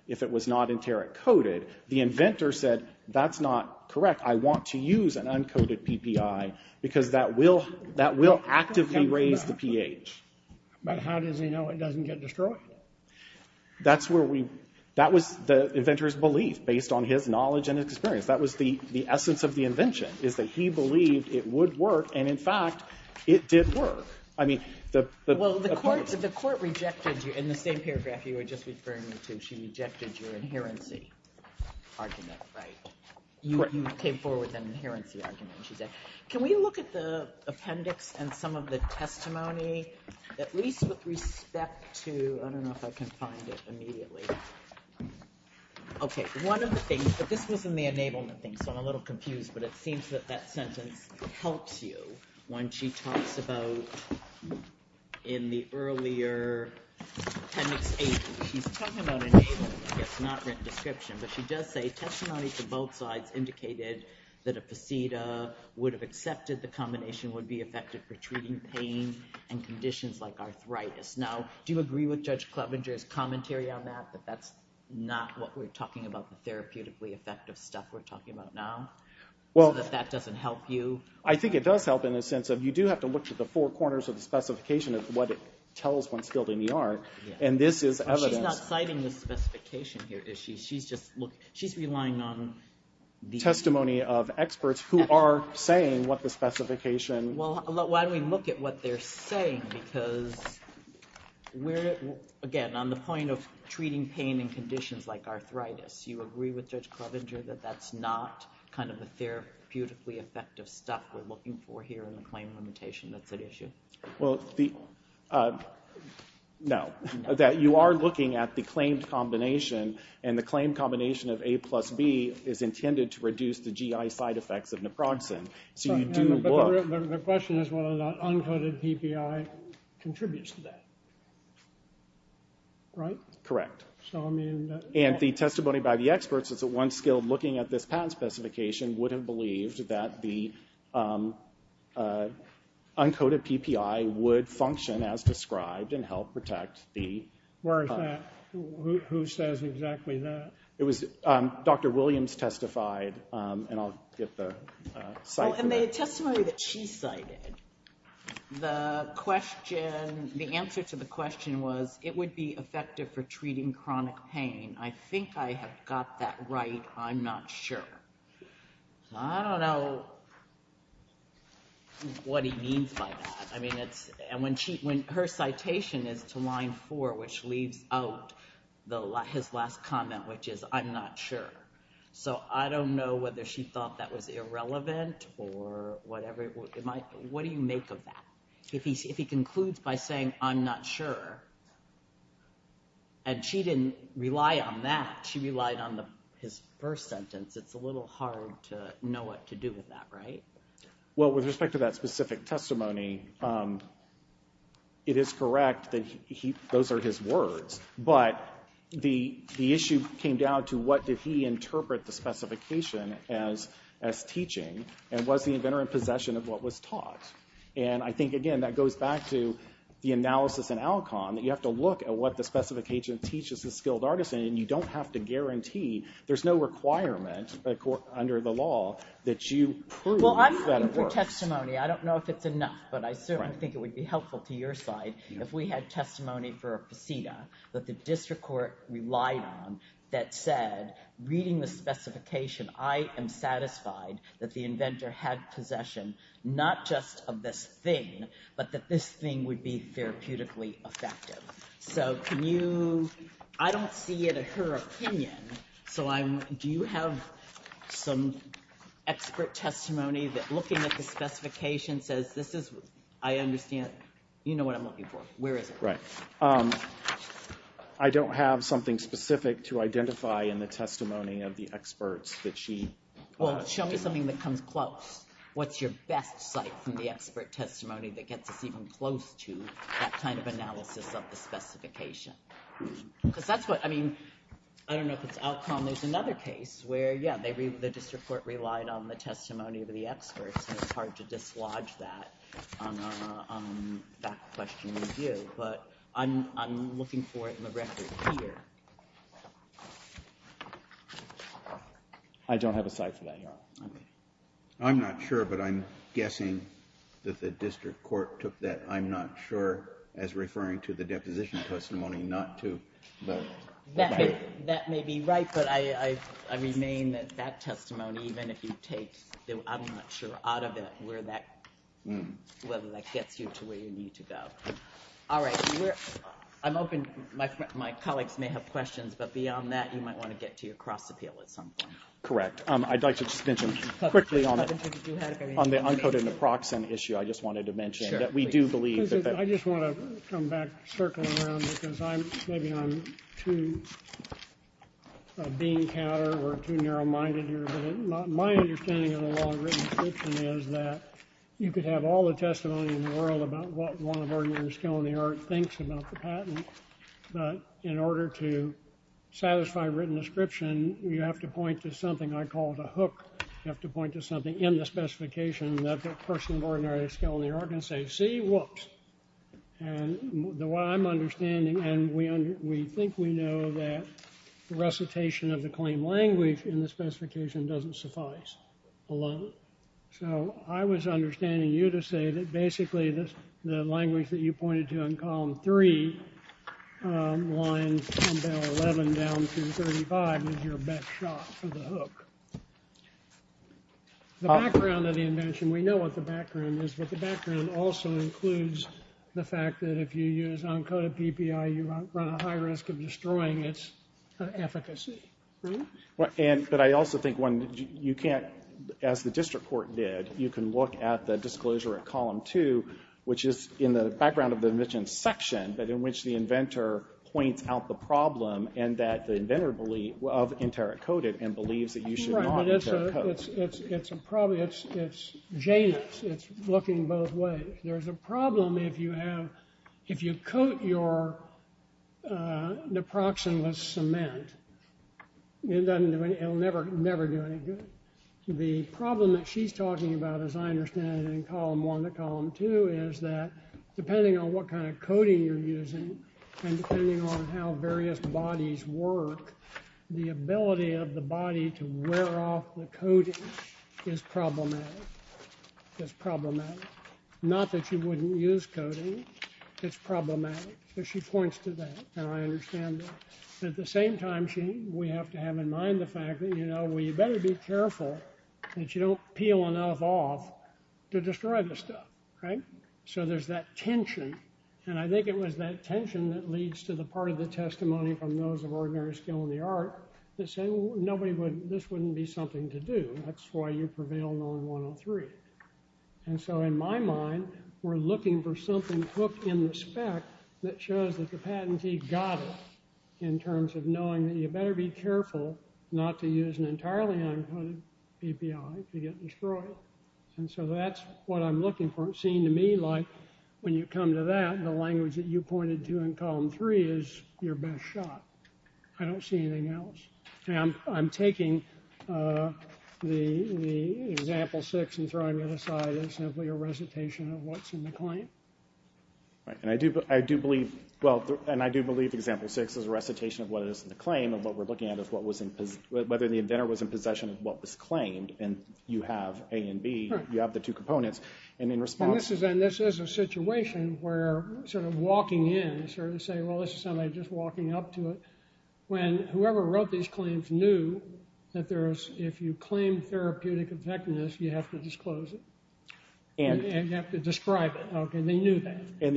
if it was not interic coded. The inventor said that's not correct. I want to use an uncoded PPI because that will actively raise the pH. But how does he know it doesn't get destroyed? That's where we – that was the inventor's belief based on his knowledge and his experience. That was the essence of the invention is that he believed it would work. And in fact, it did work. I mean – Well, the court rejected you in the same paragraph you were just referring to. She rejected your inherency argument, right? You came forward with an inherency argument. Can we look at the appendix and some of the testimony at least with respect to – I don't know if I can find it immediately. Okay. One of the things – but this was in the enablement thing, so I'm a little confused. But it seems that that sentence helps you when she talks about in the earlier – she's talking about enablement. It's not in the description. But she does say testimony to both sides indicated that a placenta would have accepted the combination would be effective for treating pain and conditions like arthritis. Now, do you agree with Judge Klobinger's commentary on that, that that's not what we're talking about, the therapeutically effective stuff we're talking about now? Well – That that doesn't help you? I think it does help in the sense that you do have to look to the four corners of the specification as to what it tells when it's built in the art. And this is evident. She's not citing the specification here, is she? She's just – she's relying on the – Testimony of experts who are saying what the specification – Well, why don't we look at what they're saying? Because we're – again, on the point of treating pain and conditions like arthritis, do you agree with Judge Klobinger that that's not kind of the therapeutically effective stuff we're looking for here in the claim limitation of the issue? Well, the – no. You are looking at the claimed combination, and the claimed combination of A plus B is intended to reduce the GI side effects of naproxen. So you do look – But the question is whether the uncoded PPI contributes to that, right? Correct. So, I mean – And the testimony by the experts is that one skilled looking at this patent specification wouldn't believe that the uncoded PPI would function as described and help protect the – Where is that? Who says exactly that? It was – Dr. Williams testified, and I'll get the – And the testimony that she cited, the question – the answer to the question was it would be effective for treating chronic pain. I think I have got that right. I'm not sure. I don't know what he means by that. I mean, it's – and when she – when her citation is to line four, which leaves out his last comment, which is I'm not sure. So I don't know whether she thought that was irrelevant or whatever. What do you make of that? If he concludes by saying I'm not sure and she didn't rely on that. She relied on his first sentence. It's a little hard to know what to do with that, right? Well, with respect to that specific testimony, it is correct that he – those are his words. But the issue came down to what did he interpret the specification as teaching and let the inventor in possession of what was taught. And I think, again, that goes back to the analysis and outcome. You have to look at what the specification teaches the skilled artisan, and you don't have to guarantee – there's no requirement under the law that you prove – Well, I'm looking for testimony. I don't know if it's enough, but I certainly think it would be helpful to your side if we had testimony for a patina that the district court relied on that said, reading the specification, I am satisfied that the inventor had possession not just of this thing but that this thing would be therapeutically effective. So can you – I don't see it as her opinion. So do you have some expert testimony that, looking at the specification, says this is – I understand – you know what I'm looking for. Where is it? Right. I don't have something specific to identify in the testimony of the experts that she – Well, show me something that comes close. What's your best site from the expert testimony that gets us even close to that kind of analysis of the specification? But that's what – I mean, I don't know if it's outcome. There's another case where, yeah, the district court relied on the testimony of the experts, and it's hard to dislodge that on that question of view. But I'm looking for it in the record here. I don't have a site for that yet. Okay. I'm not sure, but I'm guessing that the district court took that, I'm not sure, as referring to the deposition testimony not to vote. That may be right, but I remain that that testimony, even if you take – I'm not sure – out of it, whether that gets you to where you need to go. All right. I'm hoping my colleagues may have questions, but beyond that, you might want to get to your cross-appeal at some point. Correct. I'd like to mention quickly on the unput in the proxem issue. I just wanted to mention that we do believe that – I just want to come back, circling around, because I'm – maybe I'm too a bean-catter or too narrow-minded here. But my understanding of the law of written description is that you could have all the testimony in the world about what one of our years still in the art thinks about the patent. But in order to satisfy written description, you have to point to something I call the hook. You have to point to something in the specification that the person of ordinary skill in the art can say, see, whoops. And the way I'm understanding – and we think we know that the recitation of the claim language in the specification doesn't suffice alone. So I was understanding you to say that basically the language that you pointed to in column three, line 11 down to 35, is your best shot for the hook. The background of the invention – we know what the background is, but the background also includes the fact that if you use uncoded PPI, you run a high risk of destroying its efficacy. But I also think, one, you can't – as the district court did, you can look at the disclosure of column two, which is in the background of the invention section, but in which the inventor points out the problem and that the inventor believes – of inter-encoded and believes that you should not inter-encode. It's probably – it's genius. It's looking both ways. There's a problem if you have – if you coat your naproxen with cement. It'll never do anything. The problem that she's talking about, as I understand it, in column one to column two is that depending on what kind of coating you're using and depending on how various bodies work, the ability of the body to wear off the coating is problematic. It's problematic. Not that you wouldn't use coating. It's problematic. She points to that, and I understand that. At the same time, we have to have in mind the fact that, you know, you better be careful that you don't peel enough off to destroy the stuff, right? So there's that tension, and I think it was that tension that leads to the part of the testimony from those of ordinary skill in the art that say, well, nobody would – this wouldn't be something to do. That's why you prevail on 103. And so in my mind, we're looking for something hooked in the spec that shows that the patentee got it in terms of knowing that you better be careful not to use an entirely uncoated API to get destroyed. And so that's what I'm looking for. It seemed to me like when you come to that, the language that you pointed to in column three is your best shot. I don't see anything else. And I'm taking the example six and throwing it aside as simply a recitation of what's in the claim. And I do believe – well, and I do believe example six was a recitation of what is in the claim and what we're looking at is what was in – whether the inventor was in possession of what was claimed. And you have A and B. You have the two components. And in response – And this is a situation where sort of walking in, sort of say, well, this is somebody just walking up to it. When whoever wrote these claims knew that there's – if you claim therapeutic effectiveness, you have to disclose it. And you have to describe it. Okay. And they knew that. And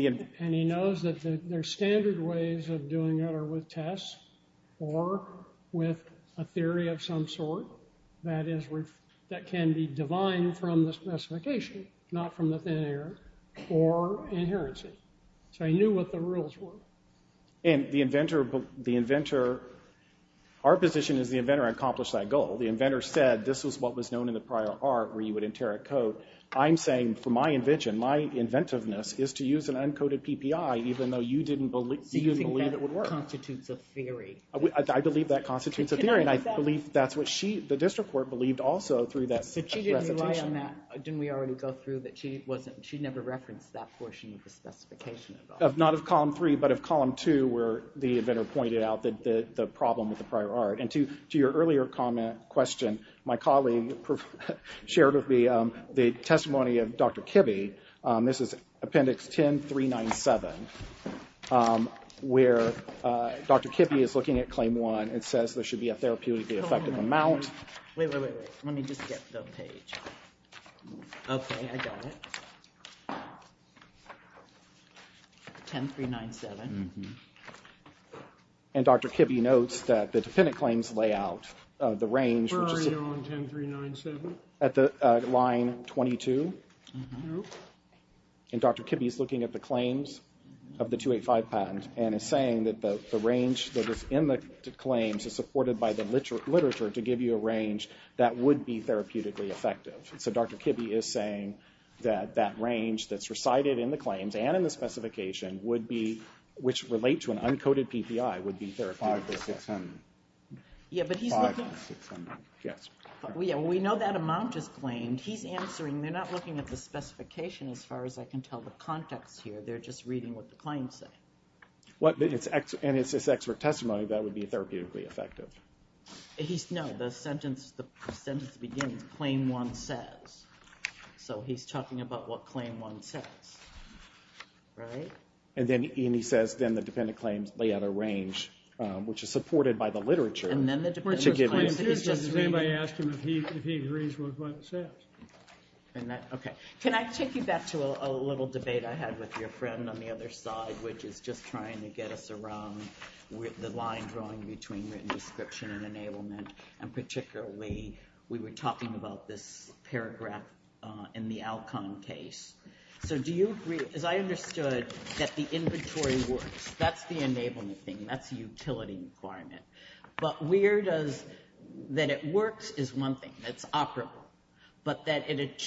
he knows that there's standard ways of doing it are with tests or with a theory of some sort. That is, that can be divine from the specification, not from the failure or inherency. So he knew what the rules were. And the inventor – our position is the inventor accomplished that goal. The inventor said this is what was known in the prior art where you would enter a code. I'm saying from my invention, my inventiveness is to use an uncoded PPI even though you didn't believe it would work. You think that constitutes a theory. I believe that constitutes a theory. And I believe that's what she – the district court believed also through that specification. She didn't rely on that. Didn't we already go through that she wasn't – she never referenced that portion of the specification. Not of column three, but of column two where the inventor pointed out that the problem was the prior art. And to your earlier comment, question, my colleague shared with me the testimony of Dr. Kibbe. This is appendix 10397 where Dr. Kibbe is looking at claim one. It says there should be a therapeutic effective amount. Wait, wait, wait, wait. Let me just get the page. Okay, I got it. 10397. And Dr. Kibbe notes that the defendant claims lay out the range. Buried on 10397. At line 22. And Dr. Kibbe is looking at the claims of the 285 patents and is saying that the range that is in the claims is supported by the literature to give you a range that would be therapeutically effective. So Dr. Kibbe is saying that that range that's recited in the claims and in the specification would be – which relates to an uncoded PPI would be therapeutically effective. Yeah, but he's looking – Yeah, we know that amount is claimed. He's answering. They're not looking at the specification as far as I can tell the context here. They're just reading what the claims say. And it's just extra testimony that would be therapeutically effective. No, the sentence at the beginning, claim one says. So he's talking about what claim one says. Right? And he says then the defendant claims lay out a range, which is supported by the literature. And then the defendant claims. Did anybody ask him if he agrees with what it says? Okay. Can I take you back to a little debate I had with your friend on the other side, which is just trying to get us around the line drawing between written description and enablement. And particularly, we were talking about this paragraph in the outcome case. So do you agree – as I understood, that the inventory works. That's the enablement thing. That's the utility requirement. But where does – that it works is one thing. It's operable. But that it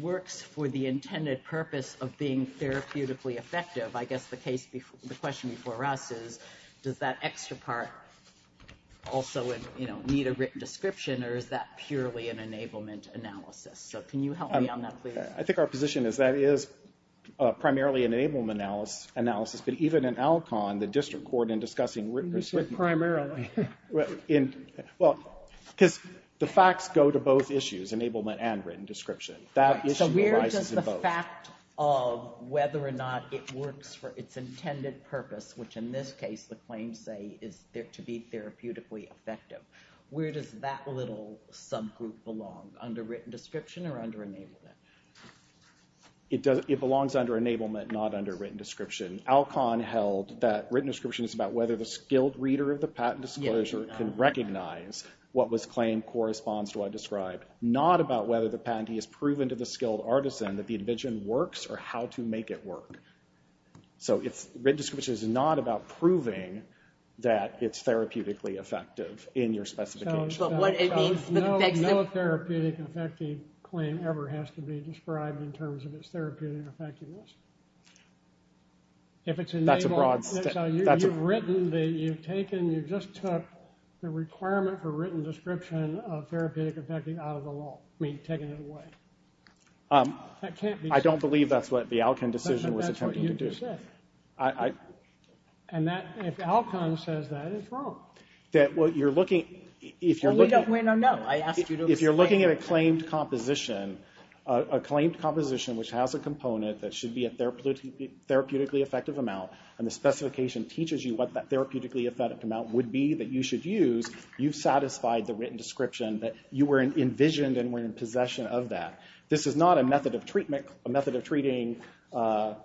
works for the intended purpose of being therapeutically effective, I guess the question before us is does that extra part also need a written description or is that purely an enablement analysis? So can you help me on that, please? I think our position is that is primarily an enablement analysis. But even in Alcon, the district court in discussing written description. Primarily. Well, because the facts go to both issues, enablement and written description. So where does the fact of whether or not it works for its intended purpose, which in this case the claims say is to be therapeutically effective, where does that little subgroup belong? Under written description or under enablement? It belongs under enablement, not under written description. Alcon held that written description is about whether the skilled reader of the patent disclosure can recognize what was claimed corresponds to what I described, not about whether the patentee has proven to the skilled artisan that the envision works or how to make it work. So written description is not about proving that it's therapeutically effective in your specification. No therapeutic effective claim ever has to be described in terms of its therapeutic effectiveness. That's a broad question. You've written, you've taken, you just took the requirement for written description of therapeutic effective out of the law. You've taken it away. I don't believe that's what the Alcon decision was intended to do. And if Alcon says that, it's wrong. If you're looking at a claimed composition, a claimed composition which has a component that should be a therapeutically effective amount and the specification teaches you what that therapeutically effective amount would be that you should use, you've satisfied the written description that you were envisioned and were in possession of that. This is not a method of treatment, a method of treating all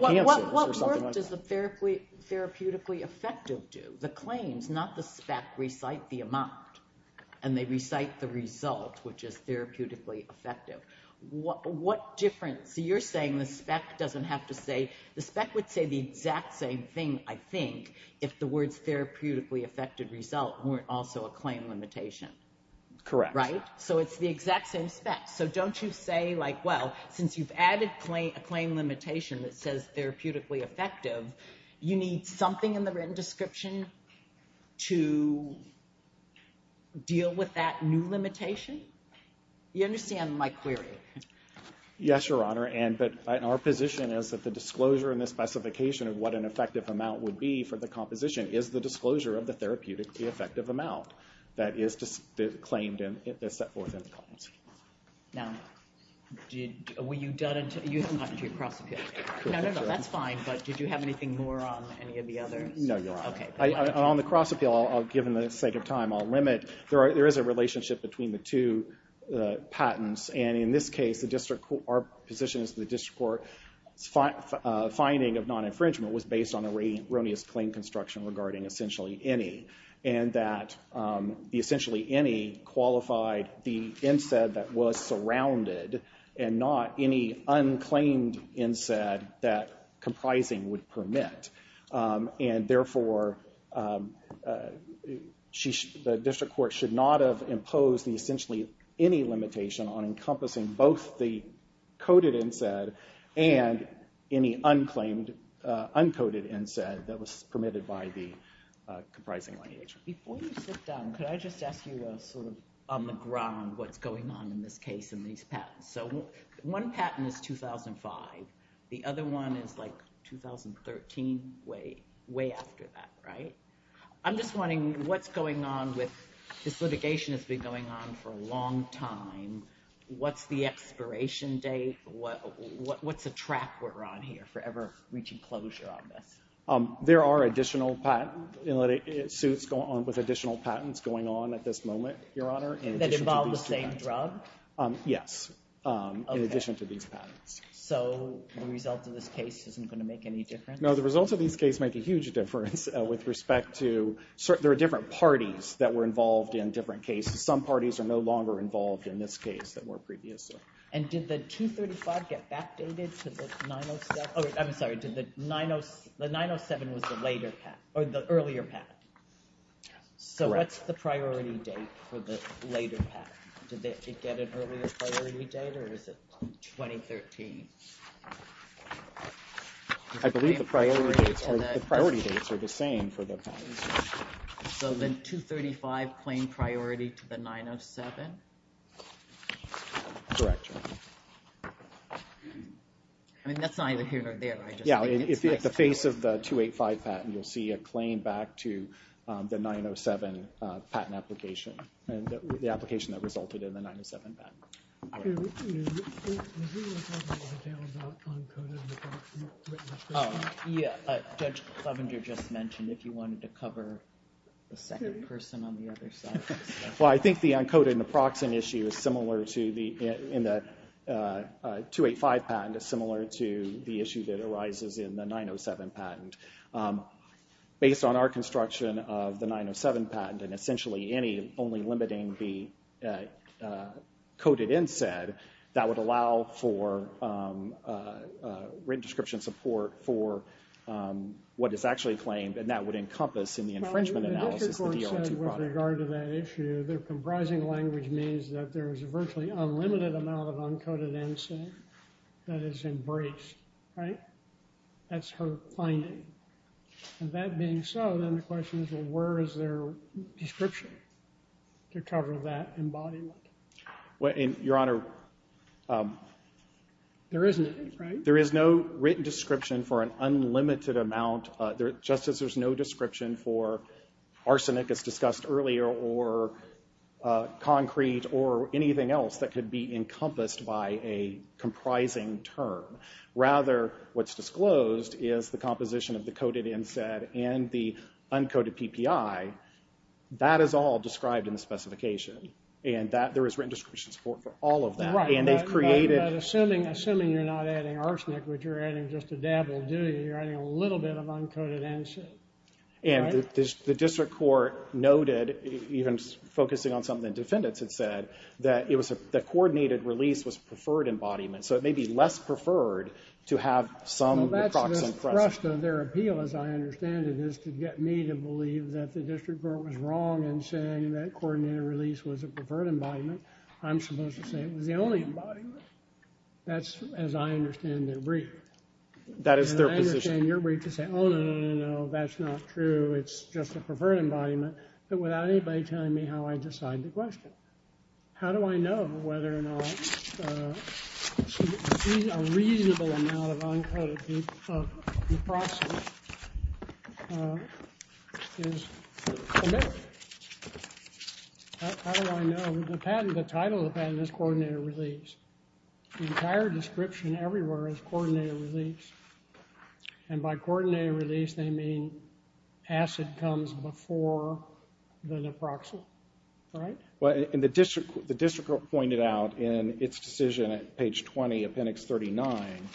candidates. What does a therapeutically effective do? The claims, not the specs, recite the amount. And they recite the results, which is therapeutically effective. What difference, so you're saying the spec doesn't have to say, the spec would say the exact same thing, I think, if the words therapeutically effective result weren't also a claim limitation. Correct. Right? So it's the exact same spec. So don't you say like, well, since you've added a claim limitation that says therapeutically effective, you need something in the written description to deal with that new limitation? You understand my query. Yes, Your Honor. And our position is that the disclosure and the specification of what an effective amount would be for the composition is the disclosure of the therapeutically effective amount that is claimed and set forth in the policy. Now, were you done until, you haven't gotten to your cross-appeal. No, no, no, that's fine, but did you have anything more on any of the other? No, Your Honor. Okay. On the cross-appeal, given the sake of time, I'll limit. There is a relationship between the two patents, and in this case, our position is the district court finding of non-infringement was based on the erroneous claim construction regarding essentially any, and that the essentially any qualified the NSAID that was surrounded and not any unclaimed NSAID that comprising would permit. And therefore, the district court should not have imposed essentially any limitation on encompassing both the coded NSAID and any unclaimed, uncoded NSAID that was permitted by the comprising litigation. Before you sit down, can I just ask you sort of on the ground what's going on in this case in these patents? So one patent is 2005. The other one is like 2013, way after that, right? I'm just wondering what's going on with, this litigation has been going on for a long time. What's the expiration date? What's the track we're on here for ever reaching closure on this? There are additional patents, suits with additional patents going on at this moment, Your Honor. That involve the same drugs? Yes, in addition to these patents. So the result of this case isn't going to make any difference? No, the results of this case make a huge difference with respect to, there are different parties that were involved in different cases. Some parties are no longer involved in this case than were previously. And did the 235 get backdated to the 907? I'm sorry, did the 907 with the later patent, or the earlier patent? Correct. So what's the priority date for the later patent? Did it get an earlier priority date or is it 2013? I believe the priority dates are the same for both patents. So then 235 claimed priority to the 907? Correct, Your Honor. I mean, that's not even here or there, right? Yeah, if it's the face of the 285 patent, you'll see a claim back to the 907 patent application, and the application that resulted in the 907 patent. Okay, let's move on. Did you want to talk about the uncode on the proxy? Yeah, Judge Lovinger just mentioned if you wanted to cover the second person on the other side. Well, I think the uncode on the proxy issue is similar to the, in the 285 patent is similar to the issue that arises in the 907 patent. Based on our construction of the 907 patent, and essentially any, only limiting the coded inset, that would allow for written description support for what is actually claimed, and that would encompass in the infringement analysis. With regard to that issue, the comprising language means that there is virtually unlimited amount of uncoded inset that is embraced, right? That's her finding. That being so, then the question is, where is there description to cover that embodiment? Well, Your Honor, There is nothing, right? There is no written description for an unlimited amount, just as there's no description for arsenic as discussed earlier, or concrete, or anything else that could be encompassed by a comprising term. Rather, what's disclosed is the composition of the coded inset, and the uncoded PPI. That is all described in the specification. And that, there is written description support for all of that. Right. Assuming you're not adding arsenic, which you're adding just a dab will do, you're adding a little bit of uncoded inset. And the district court noted, even focusing on something the defendants had said, that coordinated release was preferred embodiment. So it may be less preferred to have some decroxing thrust. Well, that's their thrust, or their appeal, as I understand it, is to get me to believe that the district court was wrong in saying that coordinated release was a preferred embodiment. I'm supposed to say it was the only embodiment. That's, as I understand their brief. That is their position. And I understand your brief to say, oh, no, no, no, no, that's not true. It's just a preferred embodiment. But without anybody telling me how I decide the question. How do I know whether or not a reasonable amount of uncoded decroxing is committed? How do I know? The title of the patent is coordinated release. The entire description everywhere is coordinated release. And by coordinated release, they mean acid comes before the necroxyl, right? Well, and the district court pointed out in its decision at page 20 of appendix 39,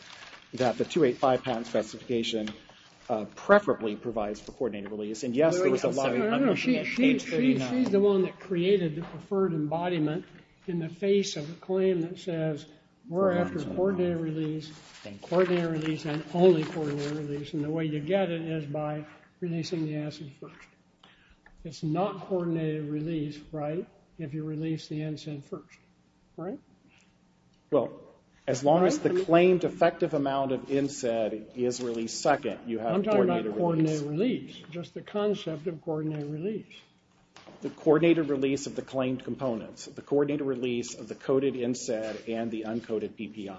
that the 285 patent sexification preferably provides for coordinated release. And, yes, there was a lot of... She's the one that created the preferred embodiment in the face of a claim that says, we're after coordinated release, and coordinated release, and only coordinated release. And the way you get it is by releasing the acid first. It's not coordinated release, right, if you release the NSAID first, right? Well, as long as the claimed effective amount of NSAID is released second, you have coordinated release. I'm talking about coordinated release, just the concept of coordinated release. The coordinated release of the claimed components. The coordinated release of the coded NSAID and the uncoded PPI.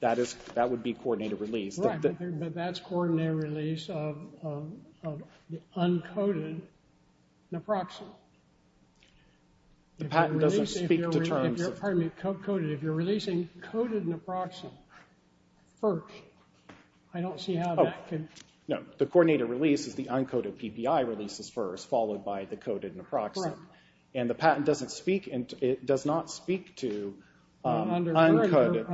That would be coordinated release. Right, but that's coordinated release of the uncoded necroxyl. The patent doesn't speak to terms of... Pardon me, coded. If you're releasing coded necroxyl first, I don't see how that could... No, the coordinated release is the uncoded PPI releases first, followed by the coded necroxyl. Right. And the patent doesn't speak, and it does not speak to uncoded,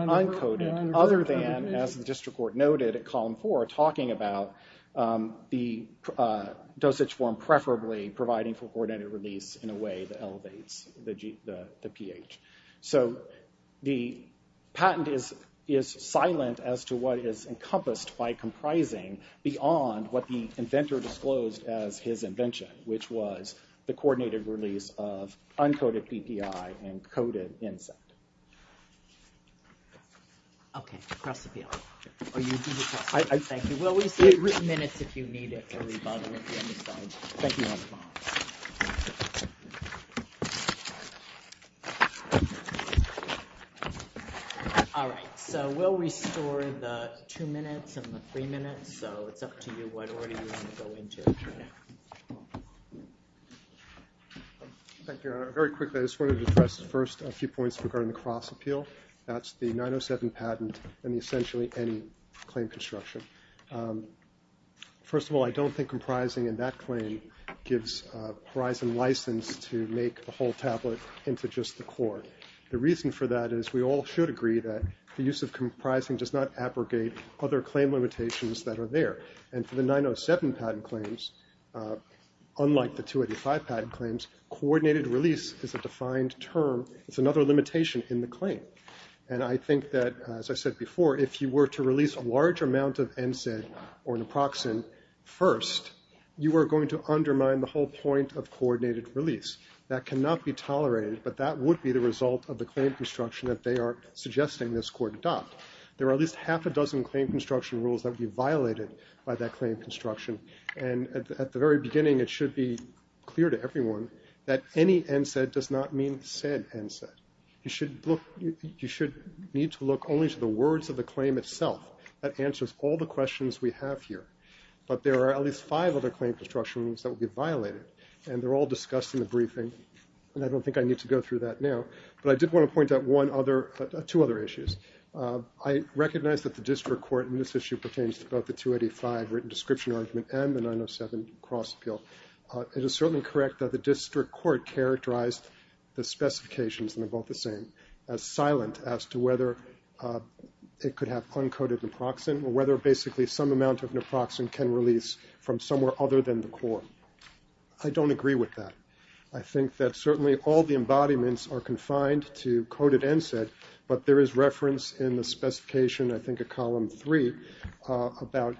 other than, as the district court noted at column four, talking about the dosage form preferably providing for coordinated release in a way that elevates the pH. So the patent is silent as to what is encompassed by comprising beyond what the inventor disclosed as his invention, which was the coordinated release of uncoded PPI and coded NSAID. Okay, across the field. Thank you. We'll restore the two minutes and the three minutes, so it's up to you what order you want to go into. Thank you. Very quickly, I just wanted to address first a few points regarding the cross-appeal. That's the 907 patent and essentially any claim construction. First of all, I don't think comprising in that claim gives Verizon license to make the whole tablet into just the core. The reason for that is we all should agree that the use of comprising does not abrogate other claim limitations that are there. And for the 907 patent claims, unlike the 285 patent claims, coordinated release is a defined term. It's another limitation in the claim. And I think that, as I said before, if you were to release a large amount of NSAID or naproxen, first, you are going to undermine the whole point of coordinated release. That cannot be tolerated, but that would be the result of the claim construction that they are suggesting this court adopt. There are at least half a dozen claim construction rules that would be violated by that claim construction. And at the very beginning, it should be clear to everyone that any NSAID does not mean said NSAID. You should need to look only to the words of the claim itself. That answers all the questions we have here. But there are at least five other claim construction rules that would be violated, and they're all discussed in the briefing, and I don't think I need to go through that now. But I did want to point out two other issues. I recognize that the district court in this issue pertains to both the 285 written description arrangement and the 907 cross-appeal. It is certainly correct that the district court characterized the specifications in both the same as silent as to whether it could have uncoated naproxen or whether basically some amount of naproxen can release from somewhere other than the court. I don't agree with that. I think that certainly all the embodiments are confined to coded NSAID, but there is reference in the specification, I think at column three, about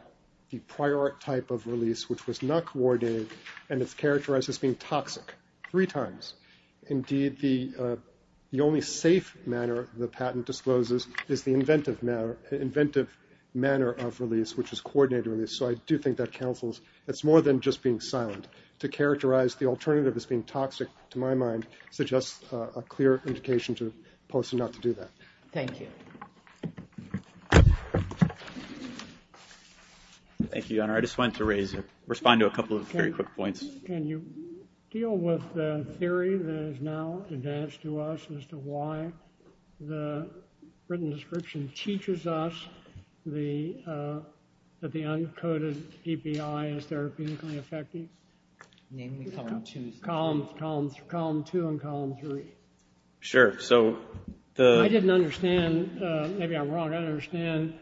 the prior type of release which was not coordinated and is characterized as being toxic three times. Indeed, the only safe manner the patent discloses is the inventive manner of release, which is coordinated release. So I do think that counsels. It's more than just being silent. To characterize the alternative as being toxic, to my mind, suggests a clear indication to the person not to do that. Thank you. Thank you, Your Honor. I just wanted to respond to a couple of very quick points. Can you deal with the theory that is now advanced to us as to why the written description teaches us that the uncoated EPI is therapeutically effective? Namely column two. Columns two and column three. Sure. I didn't understand. Maybe I'm wrong. I understand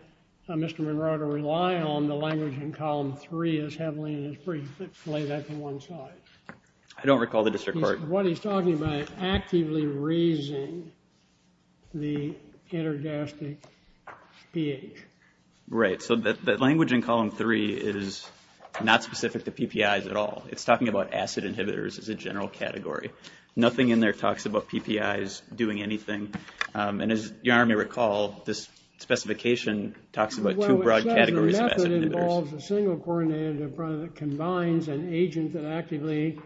Mr. Monroe to rely on the language in column three as heavily as it's laid out in one slide. I don't recall the district court. What he's talking about is actively raising the energetic pH. Right. So the language in column three is not specific to PPIs at all. It's talking about acid inhibitors as a general category. Nothing in there talks about PPIs doing anything. And as Your Honor may recall, this specification talks about two broad categories of acid inhibitors. Well, it says the method involves a single coordinate that combines an agent that actively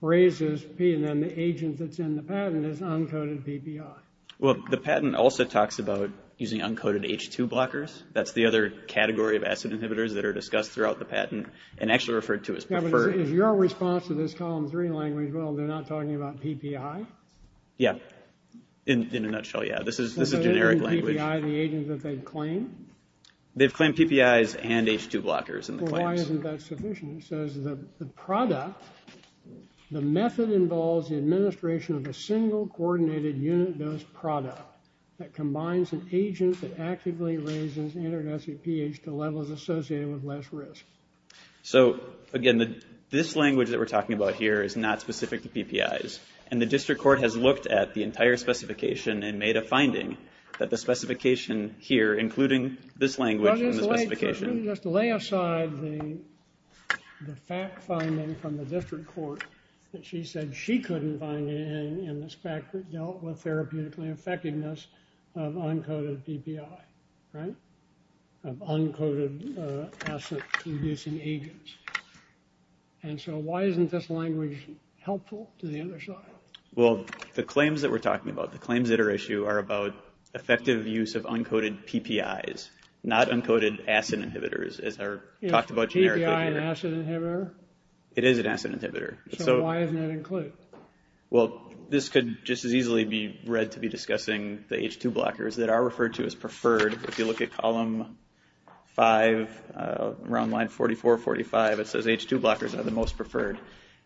raises P and then the agent that's in the patent is uncoated PPI. Well, the patent also talks about using uncoated H2 blockers. That's the other category of acid inhibitors that are discussed throughout the patent and actually referred to as preferred. Is your response to this column three language, well, they're not talking about PPI? Yeah. In a nutshell, yeah. This is a generic language. The PPI, the agent that they claim? They've claimed PPIs and H2 blockers in the claims. Well, why isn't that sufficient? It says the product, the method involves the administration of a single coordinated unit known as product that combines an agent that actively raises energetic pH to levels associated with less risk. So again, this language that we're talking about here is not specific to PPIs. And the district court has looked at the entire specification and made a finding that the specification here, including this language and the specification. Why don't you just lay aside the fact finding from the district court that she said she couldn't find in this fact that dealt with therapeutically effectiveness of uncoated PPI, right? Of uncoated acid-reducing agents. And so why isn't this language helpful to the industry? Well, the claims that we're talking about, the claims that are issued are about effective use of uncoated PPIs, not uncoated acid inhibitors, as are talked about generically. Yeah, PPI and acid inhibitor? It is an acid inhibitor. So why isn't that included? Well, this could just as easily be read to be discussing the H2 blockers that are referred to as preferred. If you look at column 5, around line 44, 45, it says H2 blockers are the most preferred.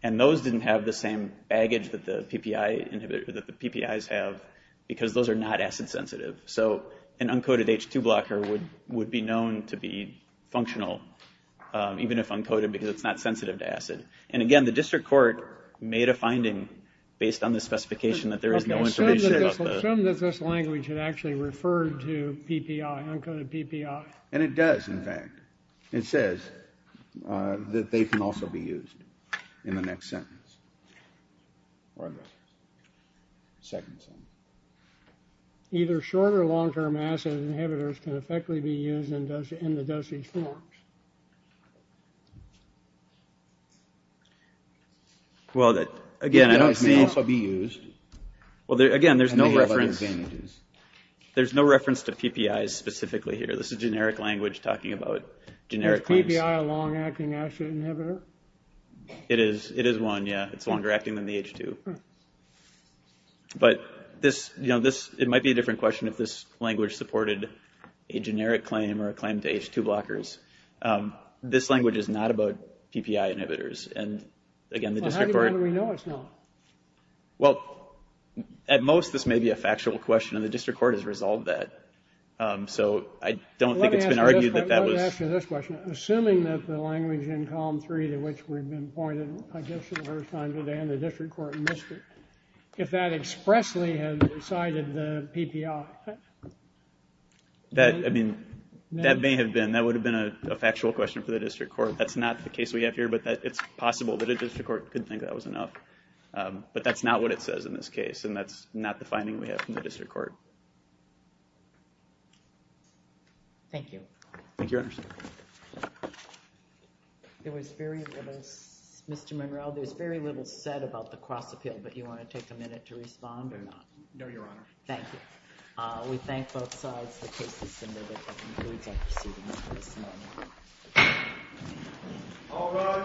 And those didn't have the same baggage that the PPI inhibitors, that the PPIs have, because those are not acid sensitive. So an uncoated H2 blocker would be known to be functional, even if uncoated, because it's not sensitive to acid. And again, the district court made a finding based on the specification that there is no information about those. I assume that this language had actually referred to PPI, uncoated PPI. And it does, in fact. It says that they can also be used in the next sentence, or the second sentence. Either short or long-term acid inhibitors can effectively be used in the dosage forms. Well, again, they can also be used. Well, again, there's no reference to PPIs specifically here. This is generic language talking about generic claims. Is PPI a long-acting acid inhibitor? It is one, yeah. It's longer acting than the H2. But it might be a different question if this language supported a generic claim or a claim to H2 blockers. This language is not about PPI inhibitors. And again, the district court. Well, how do you know it's not? Well, at most, this may be a factual question. And the district court has resolved that. So I don't think it's been argued that that was. Let me ask you this question. Assuming that the language in column three to which we've been pointed, I guess for the first time today, and the district court missed it, if that expressly had cited the PPI. That, I mean, that may have been. That would have been a factual question for the district court. That's not the case we have here. But it's possible that a district court could think that was enough. But that's not what it says in this case. And that's not the finding we have from the district court. Thank you. Thank you, Your Honor. It was very, as Mr. Monroe, there's very little said about the cross-appeal. But do you want to take a minute to respond or not? No, Your Honor. Thank you. We thank both sides for cases similar to this one. Please excuse me. All rise. Thank you.